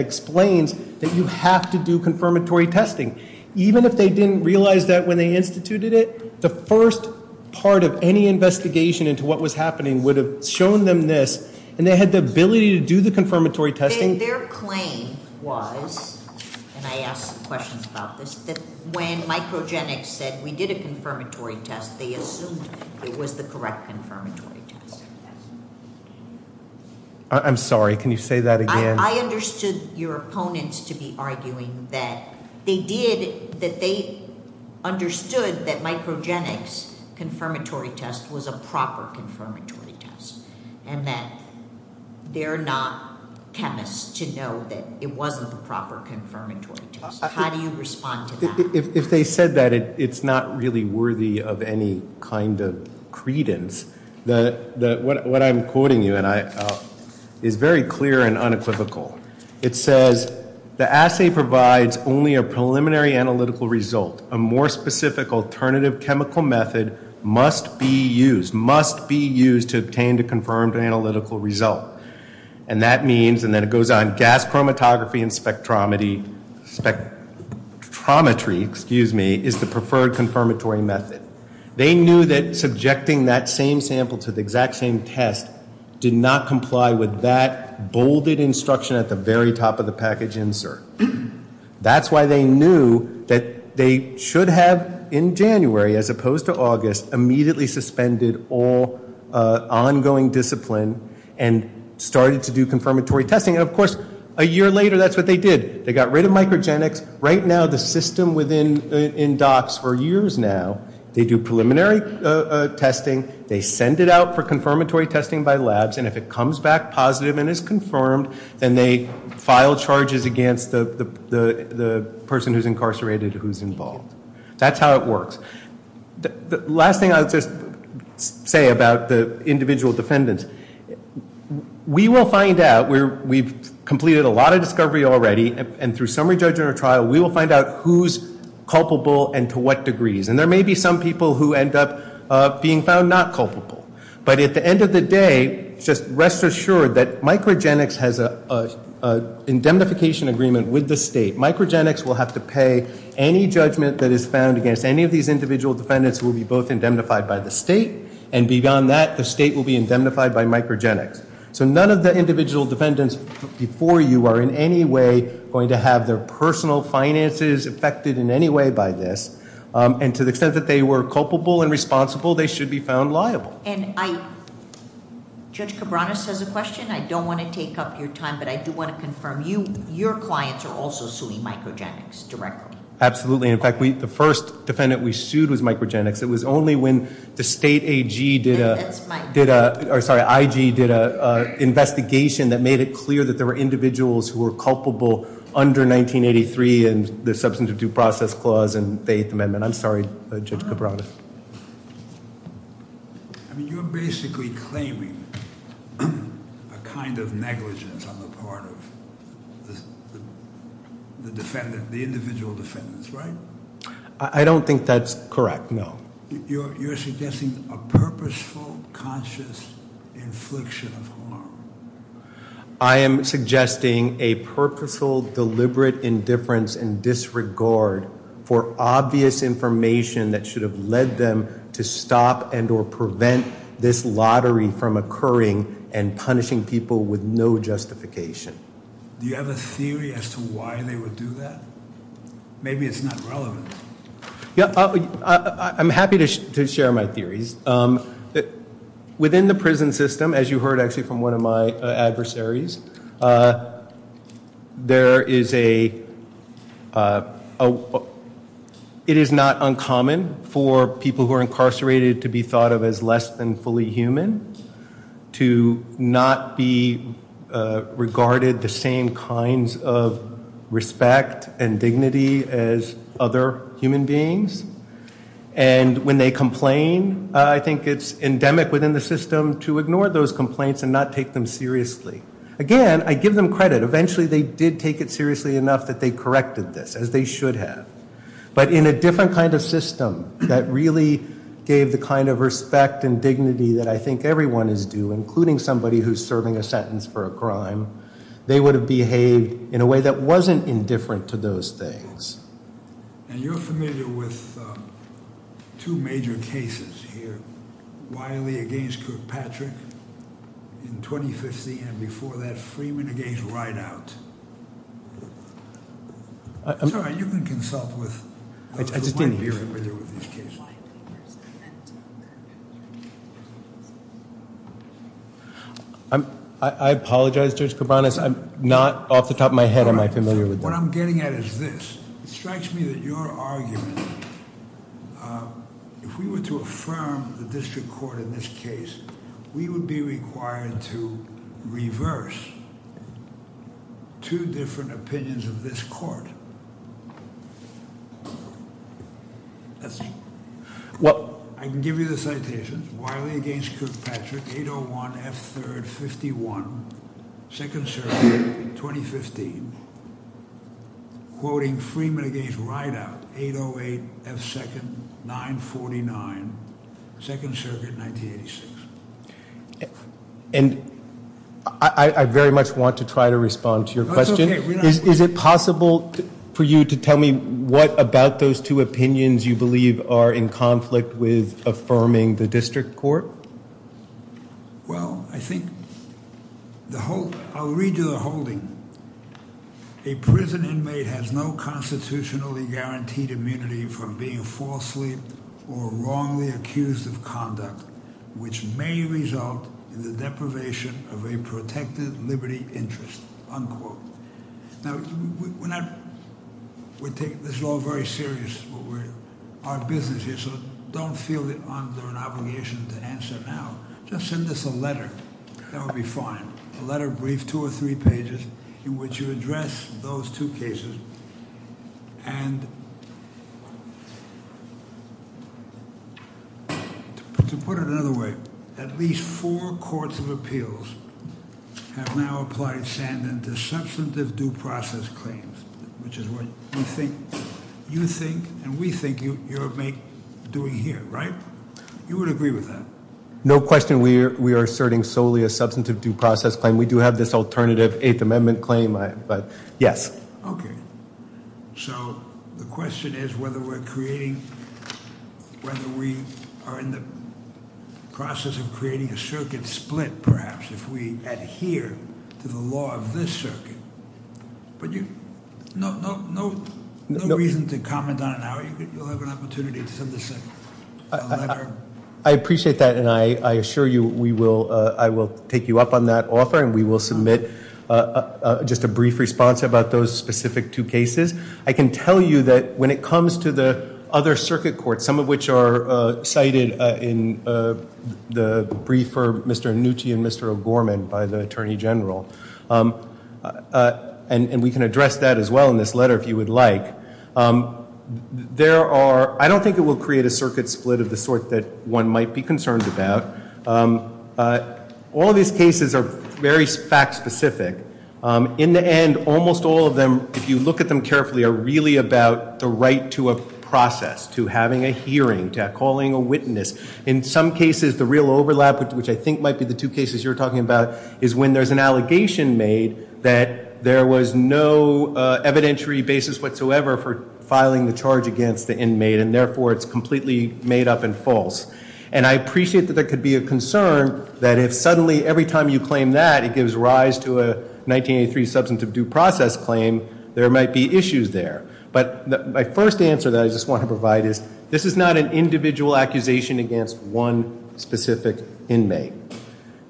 explains that you have to do confirmatory testing. Even if they didn't realize that when they instituted it, the first part of any investigation into what was happening would have shown them this. And they had the ability to do the confirmatory testing? Their claim was, and I asked some questions about this, that when Microgenics said we did a confirmatory test, they assumed it was the correct confirmatory test. I'm sorry. Can you say that again? I understood your opponents to be arguing that they did, that they understood that Microgenics' confirmatory test was a proper confirmatory test. And that they're not chemists to know that it wasn't the proper confirmatory test. How do you respond to that? If they said that, it's not really worthy of any kind of credence. What I'm quoting you, and it's very clear and unequivocal. It says, the assay provides only a preliminary analytical result. A more specific alternative chemical method must be used, to obtain the confirmed analytical result. And that means, and then it goes on, gas chromatography and spectrometry, excuse me, is the preferred confirmatory method. They knew that subjecting that same sample to the exact same test did not comply with that bolded instruction at the very top of the package insert. That's why they knew that they should have, in January, as opposed to August, immediately suspended all ongoing discipline and started to do confirmatory testing. And of course, a year later, that's what they did. They got rid of Microgenics. Right now, the system within DOCS for years now, they do preliminary testing. They send it out for confirmatory testing by labs. And if it comes back positive and is confirmed, then they file charges against the person who's incarcerated who's involved. That's how it works. The last thing I'll just say about the individual defendants, we will find out, we've completed a lot of discovery already, and through summary judgment or trial, we will find out who's culpable and to what degree. And there may be some people who end up being found not culpable. But at the end of the day, just rest assured that Microgenics has an indemnification agreement with the state. Microgenics will have to pay any judgment that is found against any of these individual defendants will be both indemnified by the state. And beyond that, the state will be indemnified by Microgenics. So none of the individual defendants before you are in any way going to have their personal finances affected in any way by this. And to the extent that they were culpable and responsible, they should be found liable. Judge Cabranes has a question. I don't want to take up your time, but I do want to confirm. Your clients are also suing Microgenics directly? Absolutely. In fact, the first defendant we sued was Microgenics. It was only when the state IG did an investigation that made it clear that there were individuals who were culpable under 1983 and the Substance Abuse Process Clause and Faith Amendment. I'm sorry, Judge Cabranes. You're basically claiming a kind of negligence on the part of the defendant, the individual defendants, right? I don't think that's correct, no. You're suggesting a purposeful, conscious infliction of harm. I am suggesting a purposeful, deliberate indifference and disregard for obvious information that should have led them to stop and or prevent this lottery from occurring and punishing people with no justification. Do you have a theory as to why they would do that? Maybe it's not relevant. I'm happy to share my theories. Within the prison system, as you heard actually from one of my adversaries, there is a – it is not uncommon for people who are incarcerated to be thought of as less than fully human, to not be regarded the same kinds of respect and dignity as other human beings. And when they complain, I think it's endemic within the system to ignore those complaints and not take them seriously. Again, I give them credit. Eventually they did take it seriously enough that they corrected this, as they should have. But in a different kind of system that really gave the kind of respect and dignity that I think everyone is due, including somebody who is serving a sentence for a crime, they would have behaved in a way that wasn't indifferent to those things. And you're familiar with two major cases here, Wiley against Kirkpatrick in 2015, and before that, Freeman against Reinhart. I'm sorry, are you going to consult with – I just didn't hear you, by the way, with these cases. I apologize, Judge Kourbanas. I'm not off the top of my head, am I familiar with them? What I'm getting at is this. It strikes me that your argument, if we were to affirm the district court in this case, we would be required to reverse two different opinions of this court. I can give you the citation, Wiley against Kirkpatrick, 801 F. 3rd 51, 2nd Circuit, 2015, quoting Freeman against Reinhart, 808 F. 2nd 949, 2nd Circuit, 1986. And I very much want to try to respond to your question. Is it possible for you to tell me what about those two opinions you believe are in conflict with affirming the district court? Well, I think the whole – I'll read you the holding. A prison inmate has no constitutionally guaranteed immunity from being falsely or wrongly accused of conduct, which may result in the deprivation of a protected liberty interest, unquote. Now, we're not – we take this law very seriously, but we're – our business here, so don't feel under an obligation to answer now. Just send us a letter. That will be fine. A letter briefed, two or three pages, in which you address those two cases. And to put it another way, at least four courts of appeals have now applied Sandin to substantive due process claims, which is what you think and we think you're doing here, right? You would agree with that? No question. We are asserting solely a substantive due process claim. We do have this alternative Eighth Amendment claim, but yes. Okay. So the question is whether we're creating – whether we are in the process of creating a circuit split, perhaps, if we adhere to the law of this circuit. But you – no reason to comment on it now. You'll have an opportunity to send us a letter. I appreciate that and I assure you we will – I will take you up on that offer and we will submit just a brief response about those specific two cases. I can tell you that when it comes to the other circuit courts, some of which are cited in the brief for Mr. Annucci and Mr. Gorman by the Attorney General, and we can address that as well in this letter if you would like, there are – I don't think it will create a circuit split of the sort that one might be concerned about. All these cases are very fact-specific. In the end, almost all of them, if you look at them carefully, are really about the right to a process, to having a hearing, to calling a witness. In some cases, the real overlap, which I think might be the two cases you're talking about, is when there's an allegation made that there was no evidentiary basis whatsoever for filing the charge against the inmate and therefore it's completely made up and false. And I appreciate that there could be a concern that if suddenly every time you claim that, it gives rise to a 1983 substance of due process claim, there might be issues there. But my first answer that I just want to provide is this is not an individual accusation against one specific inmate.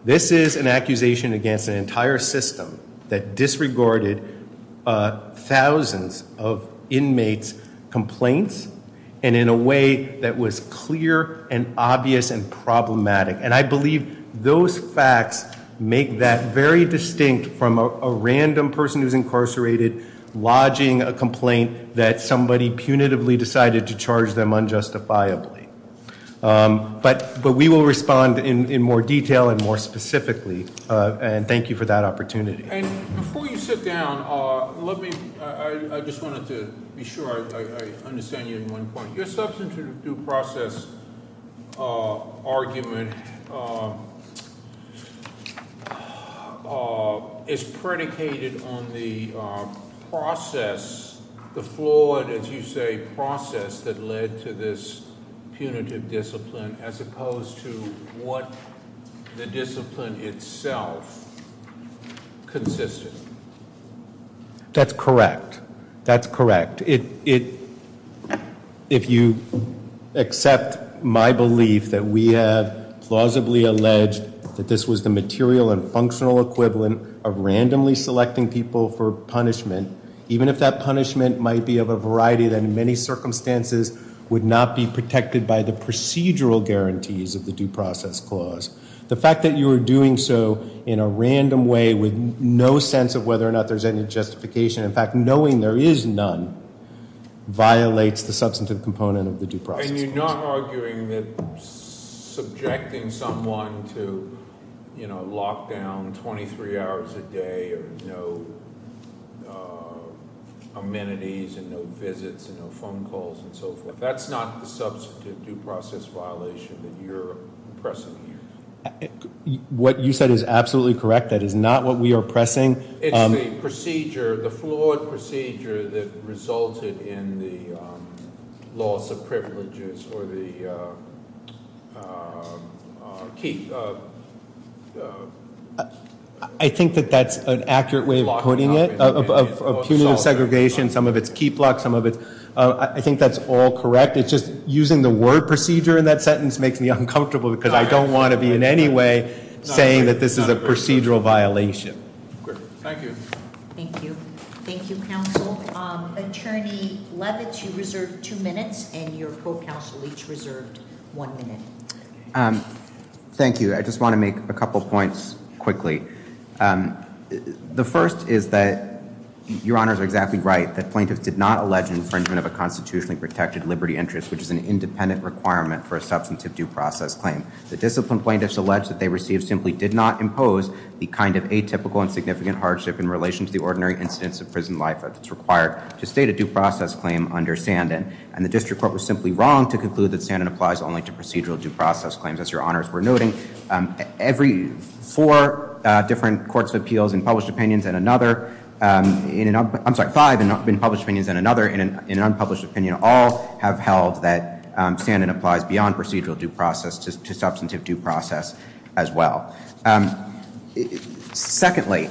This is an accusation against an entire system that disregarded thousands of inmates' complaints and in a way that was clear and obvious and problematic. And I believe those facts make that very distinct from a random person who's incarcerated lodging a complaint that somebody punitively decided to charge them unjustifiably. But we will respond in more detail and more specifically, and thank you for that opportunity. And before you sit down, I just wanted to be sure I understand you in one point. Your substance of due process argument is predicated on the process, the flawed, as you say, process that led to this punitive discipline, as opposed to what the discipline itself consisted of. That's correct. That's correct. If you accept my belief that we have plausibly alleged that this was the material and functional equivalent of randomly selecting people for punishment, even if that punishment might be of a variety that in many circumstances would not be protected by the procedural guarantees of the due process clause, the fact that you are doing so in a random way with no sense of whether or not there's any justification, in fact, knowing there is none, violates the substantive component of the due process. And you're not arguing that subjecting someone to lockdown 23 hours a day with no amenities and no visits and no phone calls and so forth, that's not the substantive due process violation that you're pressing. What you said is absolutely correct. That is not what we are pressing. It's the procedure, the flawed procedure that resulted in the loss of privileges for the keep of... I think that that's an accurate way of putting it, of punitive segregation. Some of it's keep lock, some of it's... I think that's all correct. It's just using the word procedure in that sentence makes me uncomfortable because I don't want to be in any way saying that this is a procedural violation. Thank you. Thank you. Thank you, counsel. Attorney Levitz, you reserved two minutes and your co-counsel each reserved one minute. Thank you. I just want to make a couple points quickly. The first is that your honors are exactly right, that plaintiffs did not allege infringement of a constitutionally protected liberty interest, which is an independent requirement for a substantive due process claim. The discipline plaintiffs allege that they received simply did not impose the kind of atypical and significant hardship in relation to the ordinary instance of prison life that's required to state a due process claim under Sandin. And the district court was simply wrong to conclude that Sandin applies only to procedural due process claims, as your honors were noting. Every four different courts of appeals in published opinions and another... I'm sorry, five in published opinions and another in an unpublished opinion all have held that Sandin applies beyond procedural due process to substantive due process as well. Secondly,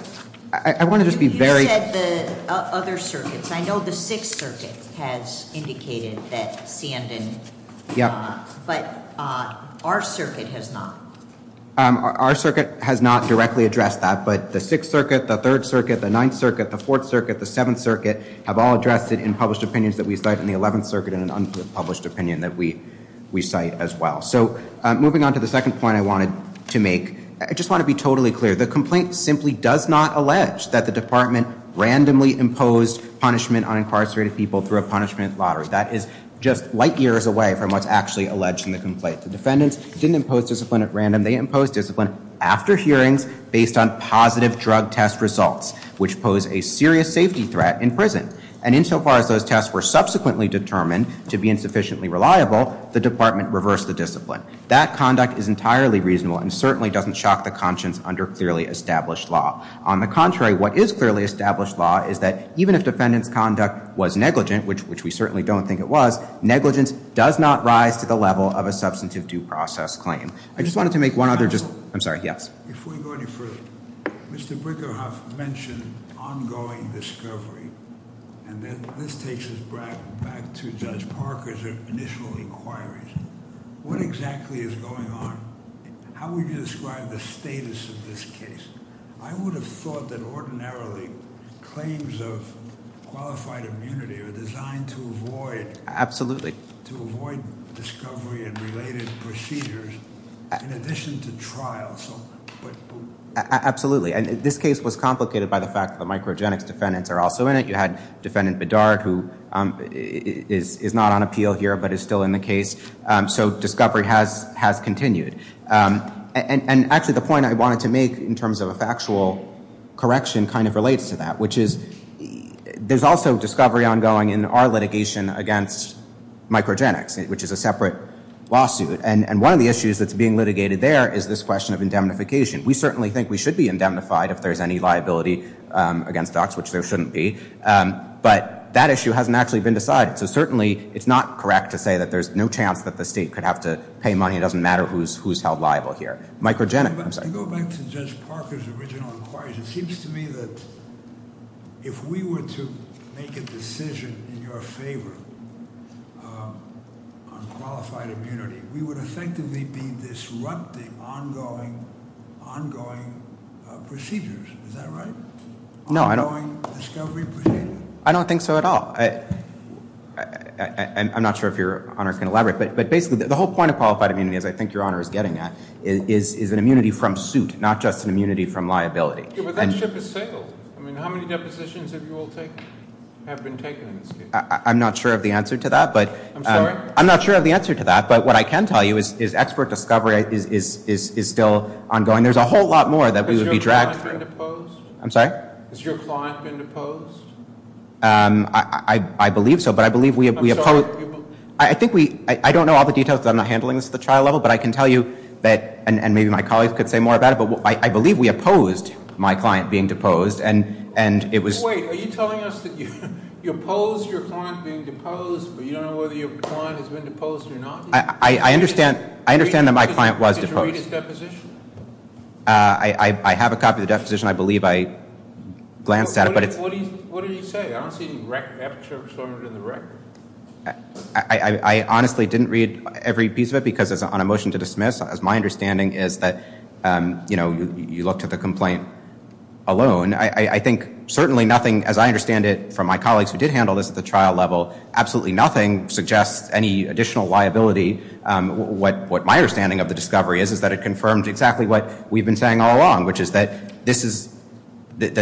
I wanted to be very... You said the other circuits. I know the Sixth Circuit has indicated that Sandin did not, but our circuit has not. Our circuit has not directly addressed that, but the Sixth Circuit, the Third Circuit, the Ninth Circuit, the Fourth Circuit, the Seventh Circuit have all addressed it in published opinions that we cite and the Eleventh Circuit in an unpublished opinion that we cite as well. So moving on to the second point I wanted to make, I just want to be totally clear. The complaint simply does not allege that the department randomly imposed punishment on incarcerated people through a punishment lottery. That is just light years away from what's actually alleged in the complaint. The defendants didn't impose discipline at random. They imposed discipline after hearings based on positive drug test results, which posed a serious safety threat in prison. And insofar as those tests were subsequently determined to be insufficiently reliable, the department reversed the discipline. That conduct is entirely reasonable and certainly doesn't shock the conscience under clearly established law. On the contrary, what is clearly established law is that even if defendant's conduct was negligent, which we certainly don't think it was, negligence does not rise to the level of a substantive due process claim. I just wanted to make one other, I'm sorry, yes. Before going to prison, Mr. Brigham mentioned ongoing discovery. And this takes us back to Judge Parker's initial inquiries. What exactly is going on? How would you describe the status of this case? I would have thought that ordinarily claims of qualified immunity are designed to avoid Absolutely. discovery and related procedures in addition to trials. Absolutely. And this case was complicated by the fact that microgenic defendants are also in it. You had defendant Bedard, who is not on appeal here, but is still in the case. So discovery has has continued. And actually, the point I wanted to make in terms of a factual correction kind of relates to that, There's also discovery ongoing in our litigation against microgenics, which is a separate lawsuit. And one of the issues that's being litigated there is this question of indemnification. We certainly think we should be indemnified if there's any liability against us, which there shouldn't be. But that issue hasn't actually been decided. So certainly it's not correct to say that there's no chance that the state could have to pay money. It doesn't matter who's held liable here. Go back to Judge Parker's original inquiries. It seems to me that if we were to make a decision in your favor on qualified immunity, we would effectively be disrupting ongoing procedures. Is that right? Ongoing discovery procedures? I don't think so at all. I'm not sure if your Honor can elaborate. But basically, the whole point of qualified immunity, as I think your Honor is getting at, is an immunity from suit, not just an immunity from liability. But that ship has sailed. I mean, how many depositions have you all taken? I'm not sure of the answer to that. I'm sorry? I'm not sure of the answer to that. But what I can tell you is expert discovery is still ongoing. There's a whole lot more that we would be dragging. Has your client been deposed? I'm sorry? Has your client been deposed? I believe so. I don't know all the details because I'm not handling this at the trial level, but I can tell you, and maybe my colleagues could say more about it, but I believe we opposed my client being deposed. Wait. Are you telling us that you opposed your client being deposed, but you don't know whether your client has been deposed or not? I understand that my client was deposed. Do you have a copy of the immediate deposition? I have a copy of the deposition. I believe I glanced at it. What did you say? I honestly didn't read every piece of it because it's on a motion to dismiss, as my understanding is that, you know, you looked at the complaint alone. I think certainly nothing, as I understand it, from my colleagues who did handle this at the trial level, absolutely nothing suggests any additional liability. What my understanding of the discovery is, is that it confirms exactly what we've been saying all along, which is that this is, that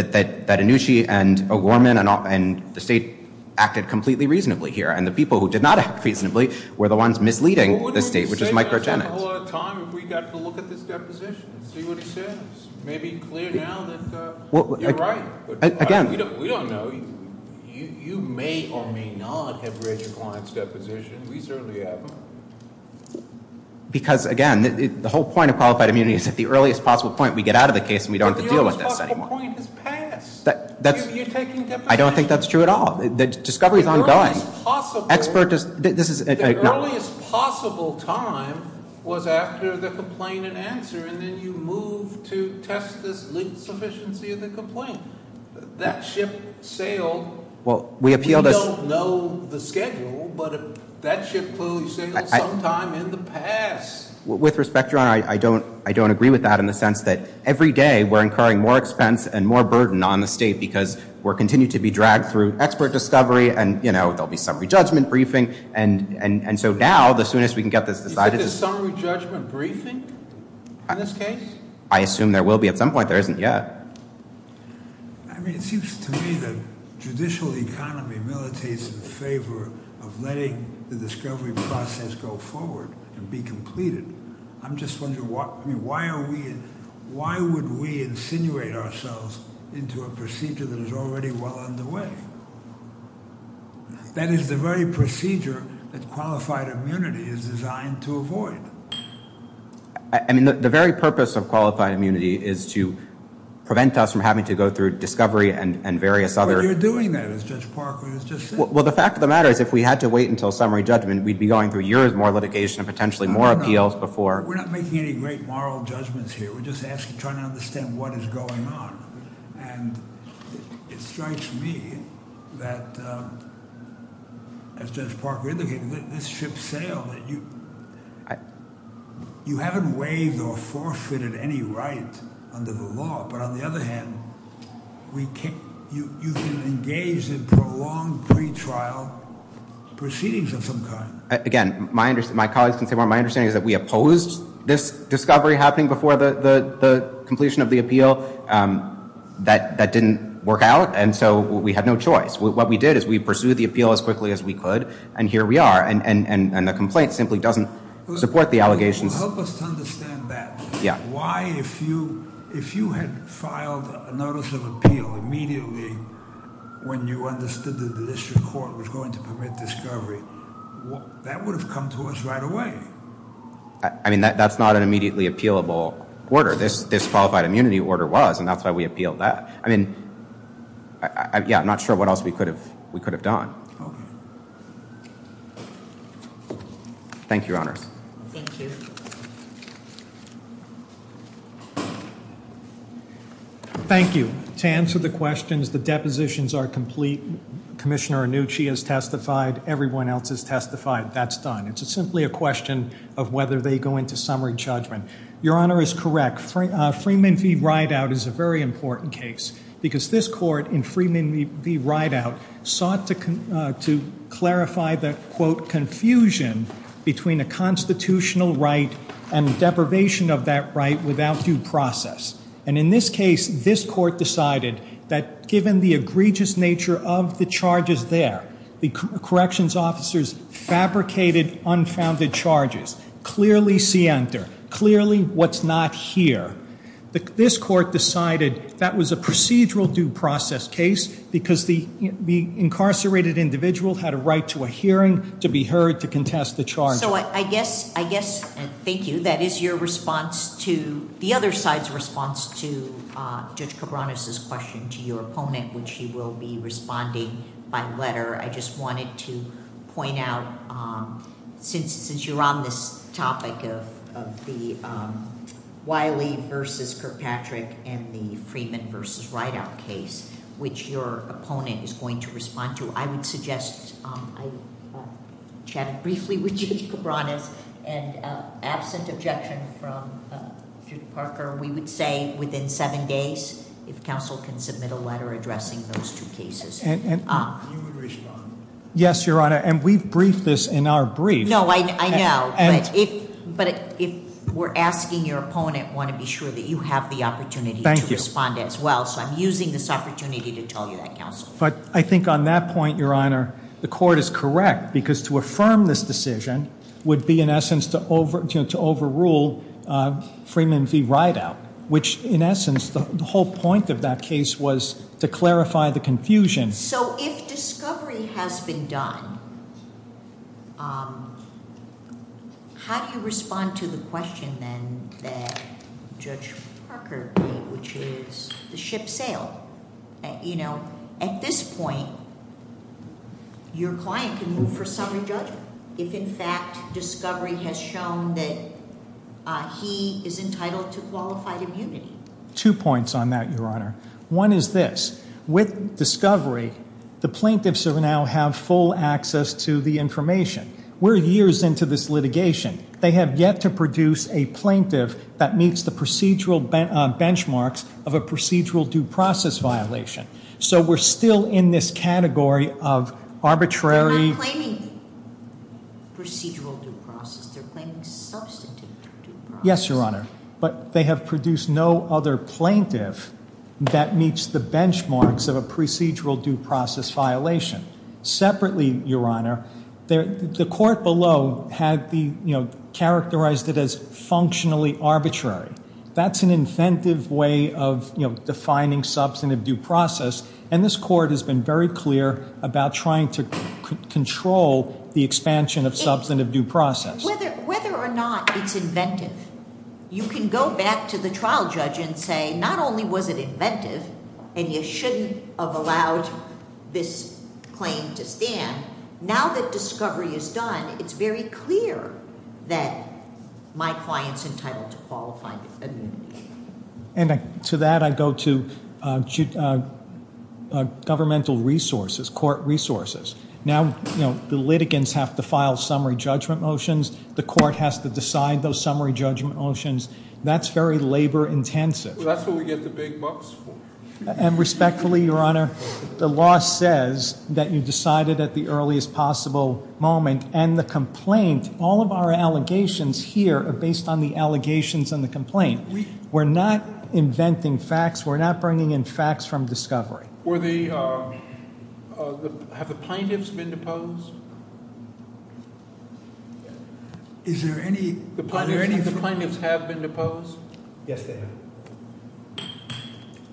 Anoushi and O'Gorman and the state acted completely reasonably here, and the people who did not act reasonably were the ones misleading the state, which is microgenic. Well, let's take a little time if we've got to look at this deposition, see what he says. It may be clear now that you're right. Again. We don't know. You may or may not have read your client's deposition. We certainly haven't. Because, again, the whole point of qualified immunity is that the earliest possible point we get out of the case and we don't have to deal with this anymore. I don't think that's true at all. The discovery is ongoing. The earliest possible time was after the complaint had answered and then you moved to test the sufficiency of the complaint. That ship sailed. We don't know the schedule, but that ship was sailing sometime in the past. With respect, Your Honor, I don't agree with that in the sense that every day we're incurring more expense and more burden on the state because we're continuing to be dragged through expert discovery and, you know, there'll be some re-judgment briefing. And so now, as soon as we can get this decided... Is there some re-judgment briefing in this case? I assume there will be at some point. There isn't yet. I mean, it seems to me that judicial economy militates in favor of letting the discovery process go forward to be completed. I'm just wondering why are we... Why would we insinuate ourselves into a procedure that is already well underway? That is the very procedure that qualified immunity is designed to avoid. I mean, the very purpose of qualified immunity is to prevent us from having to go through discovery and various other... But you're doing that, as Judge Parker has just said. Well, the fact of the matter is if we had to wait until summary judgment, we'd be going through years more litigation, potentially more appeals before... We're not making any great moral judgments here. We're just trying to understand what is going on. And it strikes me that, as Judge Parker indicated, this should sail. You haven't waived or forfeited any right under the law, but on the other hand, you can engage in prolonged pretrial proceedings of some kind. Again, my colleagues can say more. My understanding is that we opposed this discovery happening before the completion of the appeal. That didn't work out, and so we had no choice. What we did is we pursued the appeal as quickly as we could, and here we are. And the complaint simply doesn't support the allegations. Help us to understand that. Why, if you had filed a notice of appeal immediately when you understood that the district court was going to permit discovery, that would have come to us right away. I mean, that's not an immediately appealable order. This qualified immunity order was, and that's why we appealed that. I mean, yeah, I'm not sure what else we could have done. Thank you, Your Honor. Thank you. Thank you. To answer the questions, the depositions are complete. Commissioner Annucci has testified. Everyone else has testified. That's done. It's simply a question of whether they go into summary judgment. Your Honor is correct. Freeman v. Rideout is a very important case because this court in Freeman v. Rideout sought to clarify the, quote, confusion between a constitutional right and the deprivation of that right without due process. And in this case, this court decided that given the egregious nature of the charges there, the corrections officers fabricated unfounded charges, clearly scienter, clearly what's not here. This court decided that was a procedural due process case because the incarcerated individual had a right to a hearing to be heard to contest the charges. So I guess, thank you, that is your response to the other side's response to Judge Cabranes' question to your opponent, which she will be responding by letter. I just wanted to point out, since you're on this topic of the Wiley v. Kirkpatrick and the Freeman v. Rideout case, which your opponent is going to respond to, I would suggest I chat briefly with Judge Cabranes and ask an objection from Judge Parker. We would say within seven days if counsel can submit a letter addressing those two cases. And you would respond? Yes, Your Honor, and we've briefed this in our brief. No, I know. But if we're asking your opponent, I want to be sure that you have the opportunity to respond as well. So I'm using this opportunity to tell you that, counsel. But I think on that point, Your Honor, the court is correct because to affirm this decision would be, in essence, to overrule Freeman v. Rideout, which, in essence, the whole point of that case was to clarify the confusion. So if discovery has been done, how do you respond to the question then that Judge Parker made, which is the ship sailed? At this point, your client can move for summary judgment if, in fact, discovery has shown that he is entitled to qualified immunity. Two points on that, Your Honor. One is this. With discovery, the plaintiffs now have full access to the information. We're years into this litigation. They have yet to produce a plaintiff that meets the procedural benchmarks of a procedural due process violation. So we're still in this category of arbitrary... They're not claiming procedural due process. They're claiming substantive due process. Yes, Your Honor. But they have produced no other plaintiff that meets the benchmarks of a procedural due process violation. Separately, Your Honor, the court below has characterized it as functionally arbitrary. That's an inventive way of defining substantive due process, and this court has been very clear about trying to control the expansion of substantive due process. Whether or not it's inventive, you can go back to the trial judge and say, not only was it inventive, and you shouldn't have allowed this claim to stand, now that discovery is done, it's very clear that my client's entitled to qualified adjudication. And to that, I go to governmental resources, court resources. Now, you know, the litigants have to file summary judgment motions. The court has to decide those summary judgment motions. That's very labor-intensive. That's what we get the big bucks for. And respectfully, Your Honor, the law says that you decide it at the earliest possible moment, and the complaint, all of our allegations here are based on the allegations and the complaint. We're not inventing facts. We're not bringing in facts from discovery. Were the... Have the plaintiffs been deposed? Is there any... Do any of the plaintiffs have been deposed? Yes, they have.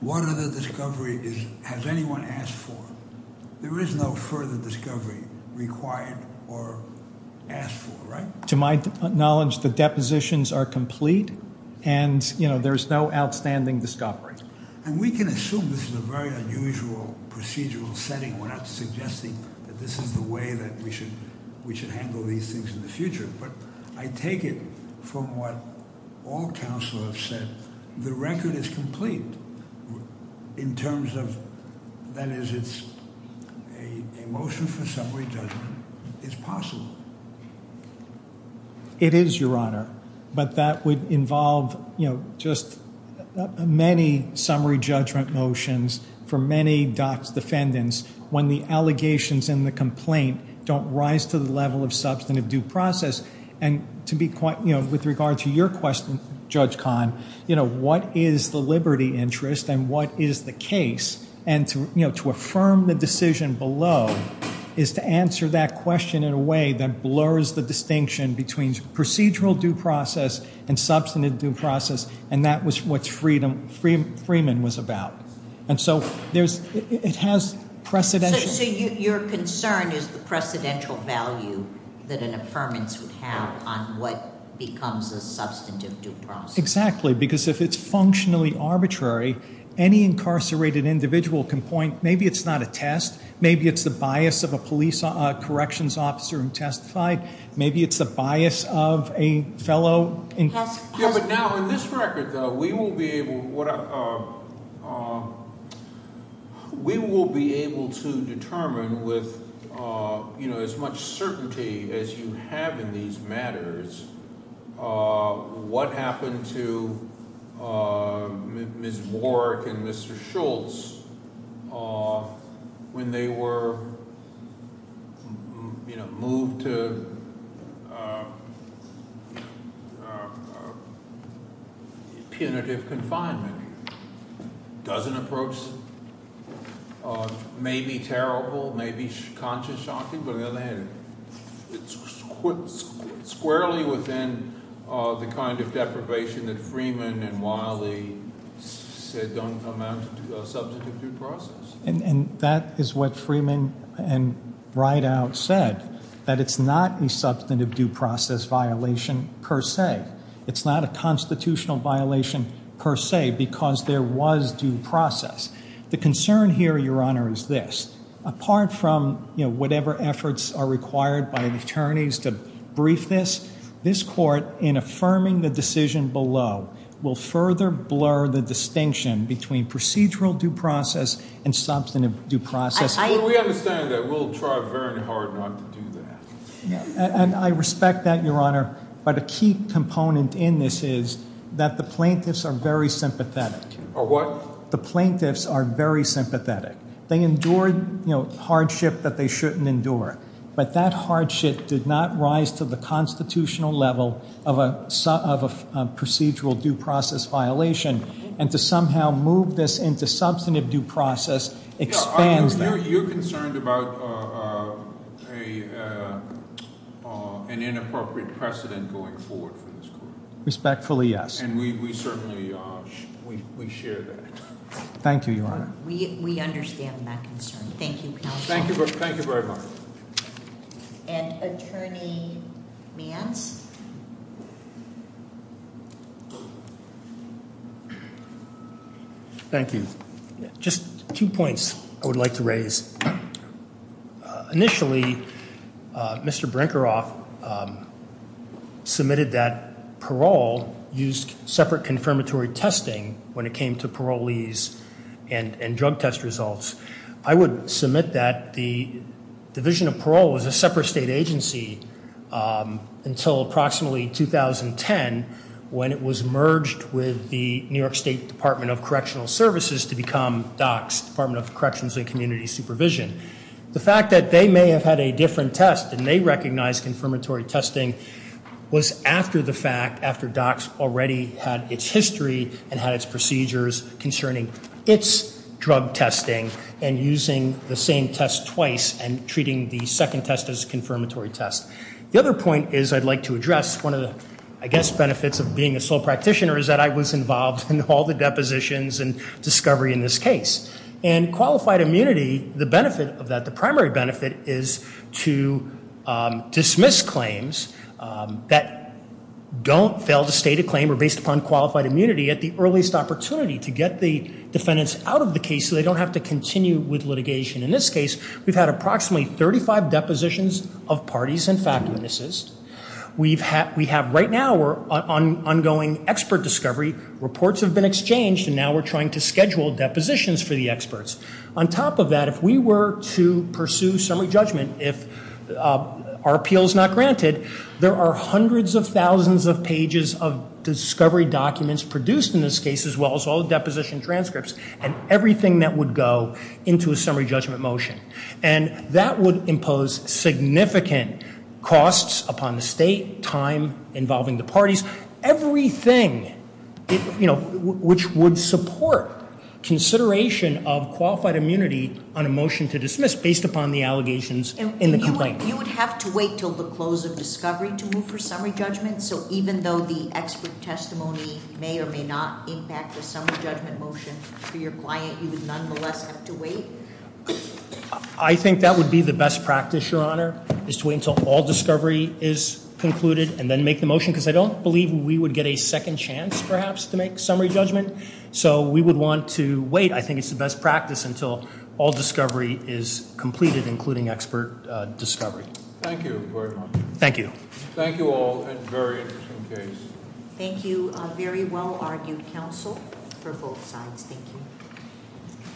What other discovery has anyone asked for? There is no further discovery required or asked for, right? To my knowledge, the depositions are complete, and, you know, there's no outstanding discovery. And we can assume this is a very unusual procedural setting. We're not suggesting that this is the way that we should handle these things in the future. But I take it from what all counselors said, the record is complete in terms of... A motion for summary judgment is possible. It is, Your Honor. But that would involve, you know, just many summary judgment motions for many docked defendants when the allegations in the complaint don't rise to the level of substantive due process. And to be quite... You know, with regard to your question, Judge Kahn, you know, what is the liberty interest and what is the case? And, you know, to affirm the decision below is to answer that question in a way that blurs the distinction between procedural due process and substantive due process, and that was what Freeman was about. And so it has precedential... So your concern is the precedential value that an affirmance would have on what becomes the substantive due process. Exactly, because if it's functionally arbitrary, any incarcerated individual can point... Maybe it's not a test. Maybe it's the bias of a police corrections officer and testify. Maybe it's the bias of a fellow... Yeah, but now, in this record, though, we will be able... We will be able to determine with, you know, as much certainty as you have in these matters what happened to Ms. Warwick and Mr. Schultz when they were, you know, moved to... punitive confinement. It doesn't approach... Maybe terrible, maybe conscious shocking, but it's squarely within the kind of deprivation that Freeman and Wiley said don't amount to a substantive due process. And that is what Freeman and Breidau said, that it's not a substantive due process violation per se. It's not a constitutional violation per se because there was due process. The concern here, Your Honor, is this. Apart from, you know, whatever efforts are required by attorneys to brief this, this court, in affirming the decision below, will further blur the distinction between procedural due process and substantive due process. And I respect that, Your Honor, but a key component in this is that the plaintiffs are very sympathetic. Are what? The plaintiffs are very sympathetic. They endured, you know, hardship that they shouldn't endure, but that hardship did not rise to the constitutional level of a procedural due process violation, and to somehow move this into substantive due process expands that. You're concerned about an inappropriate precedent going forward. And we certainly share that. Thank you, Your Honor. We understand that concern. Thank you, counsel. Thank you very much. And Attorney Meehan? Thank you. Just two points I would like to raise. Initially, Mr. Brinkerhoff submitted that parole used separate confirmatory testing when it came to parolees and drug test results. I would submit that the Division of Parole was a separate state agency until approximately 2010 when it was merged with the New York State Department of Correctional Services to become DOCS, Department of Corrections and Community Supervision. The fact that they may have had a different test and they recognized confirmatory testing was after the fact, after DOCS already had its history and had its procedures concerning its drug testing and using the same test twice and treating the second test as a confirmatory test. The other point is I'd like to address one of the, I guess, benefits of being a sole practitioner is that I was involved in all the depositions and discovery in this case. And qualified immunity, the benefit of that, the primary benefit, is to dismiss claims that don't fail to state a claim or based upon qualified immunity at the earliest opportunity to get the defendants out of the case so they don't have to continue with litigation. In this case, we've had approximately 35 depositions of parties and fact witnesses. We have right now ongoing expert discovery. Reports have been exchanged and now we're trying to schedule depositions for the experts. On top of that, if we were to pursue summary judgment, if our appeal is not granted, there are hundreds of thousands of pages of discovery documents produced in this case as well as all the deposition transcripts and everything that would go into a summary judgment motion. And that would impose significant costs upon the state, time involving the parties, everything, you know, which would support consideration of qualified immunity on a motion to dismiss based upon the allegations in the complaint. You would have to wait till the close of discovery to move for summary judgment? So even though the expert testimony may or may not impact the summary judgment motion for your client, you would nonetheless have to wait? I think that would be the best practice, Your Honor, is to wait until all discovery is concluded and then make the motion because I don't believe we would get a second chance perhaps to make summary judgment. So we would want to wait. I think it's the best practice until all discovery is completed including expert discovery. Thank you, Your Honor. Thank you. Thank you all. That was a very interesting case. Thank you. A very well-argued counsel for both sides. Thank you.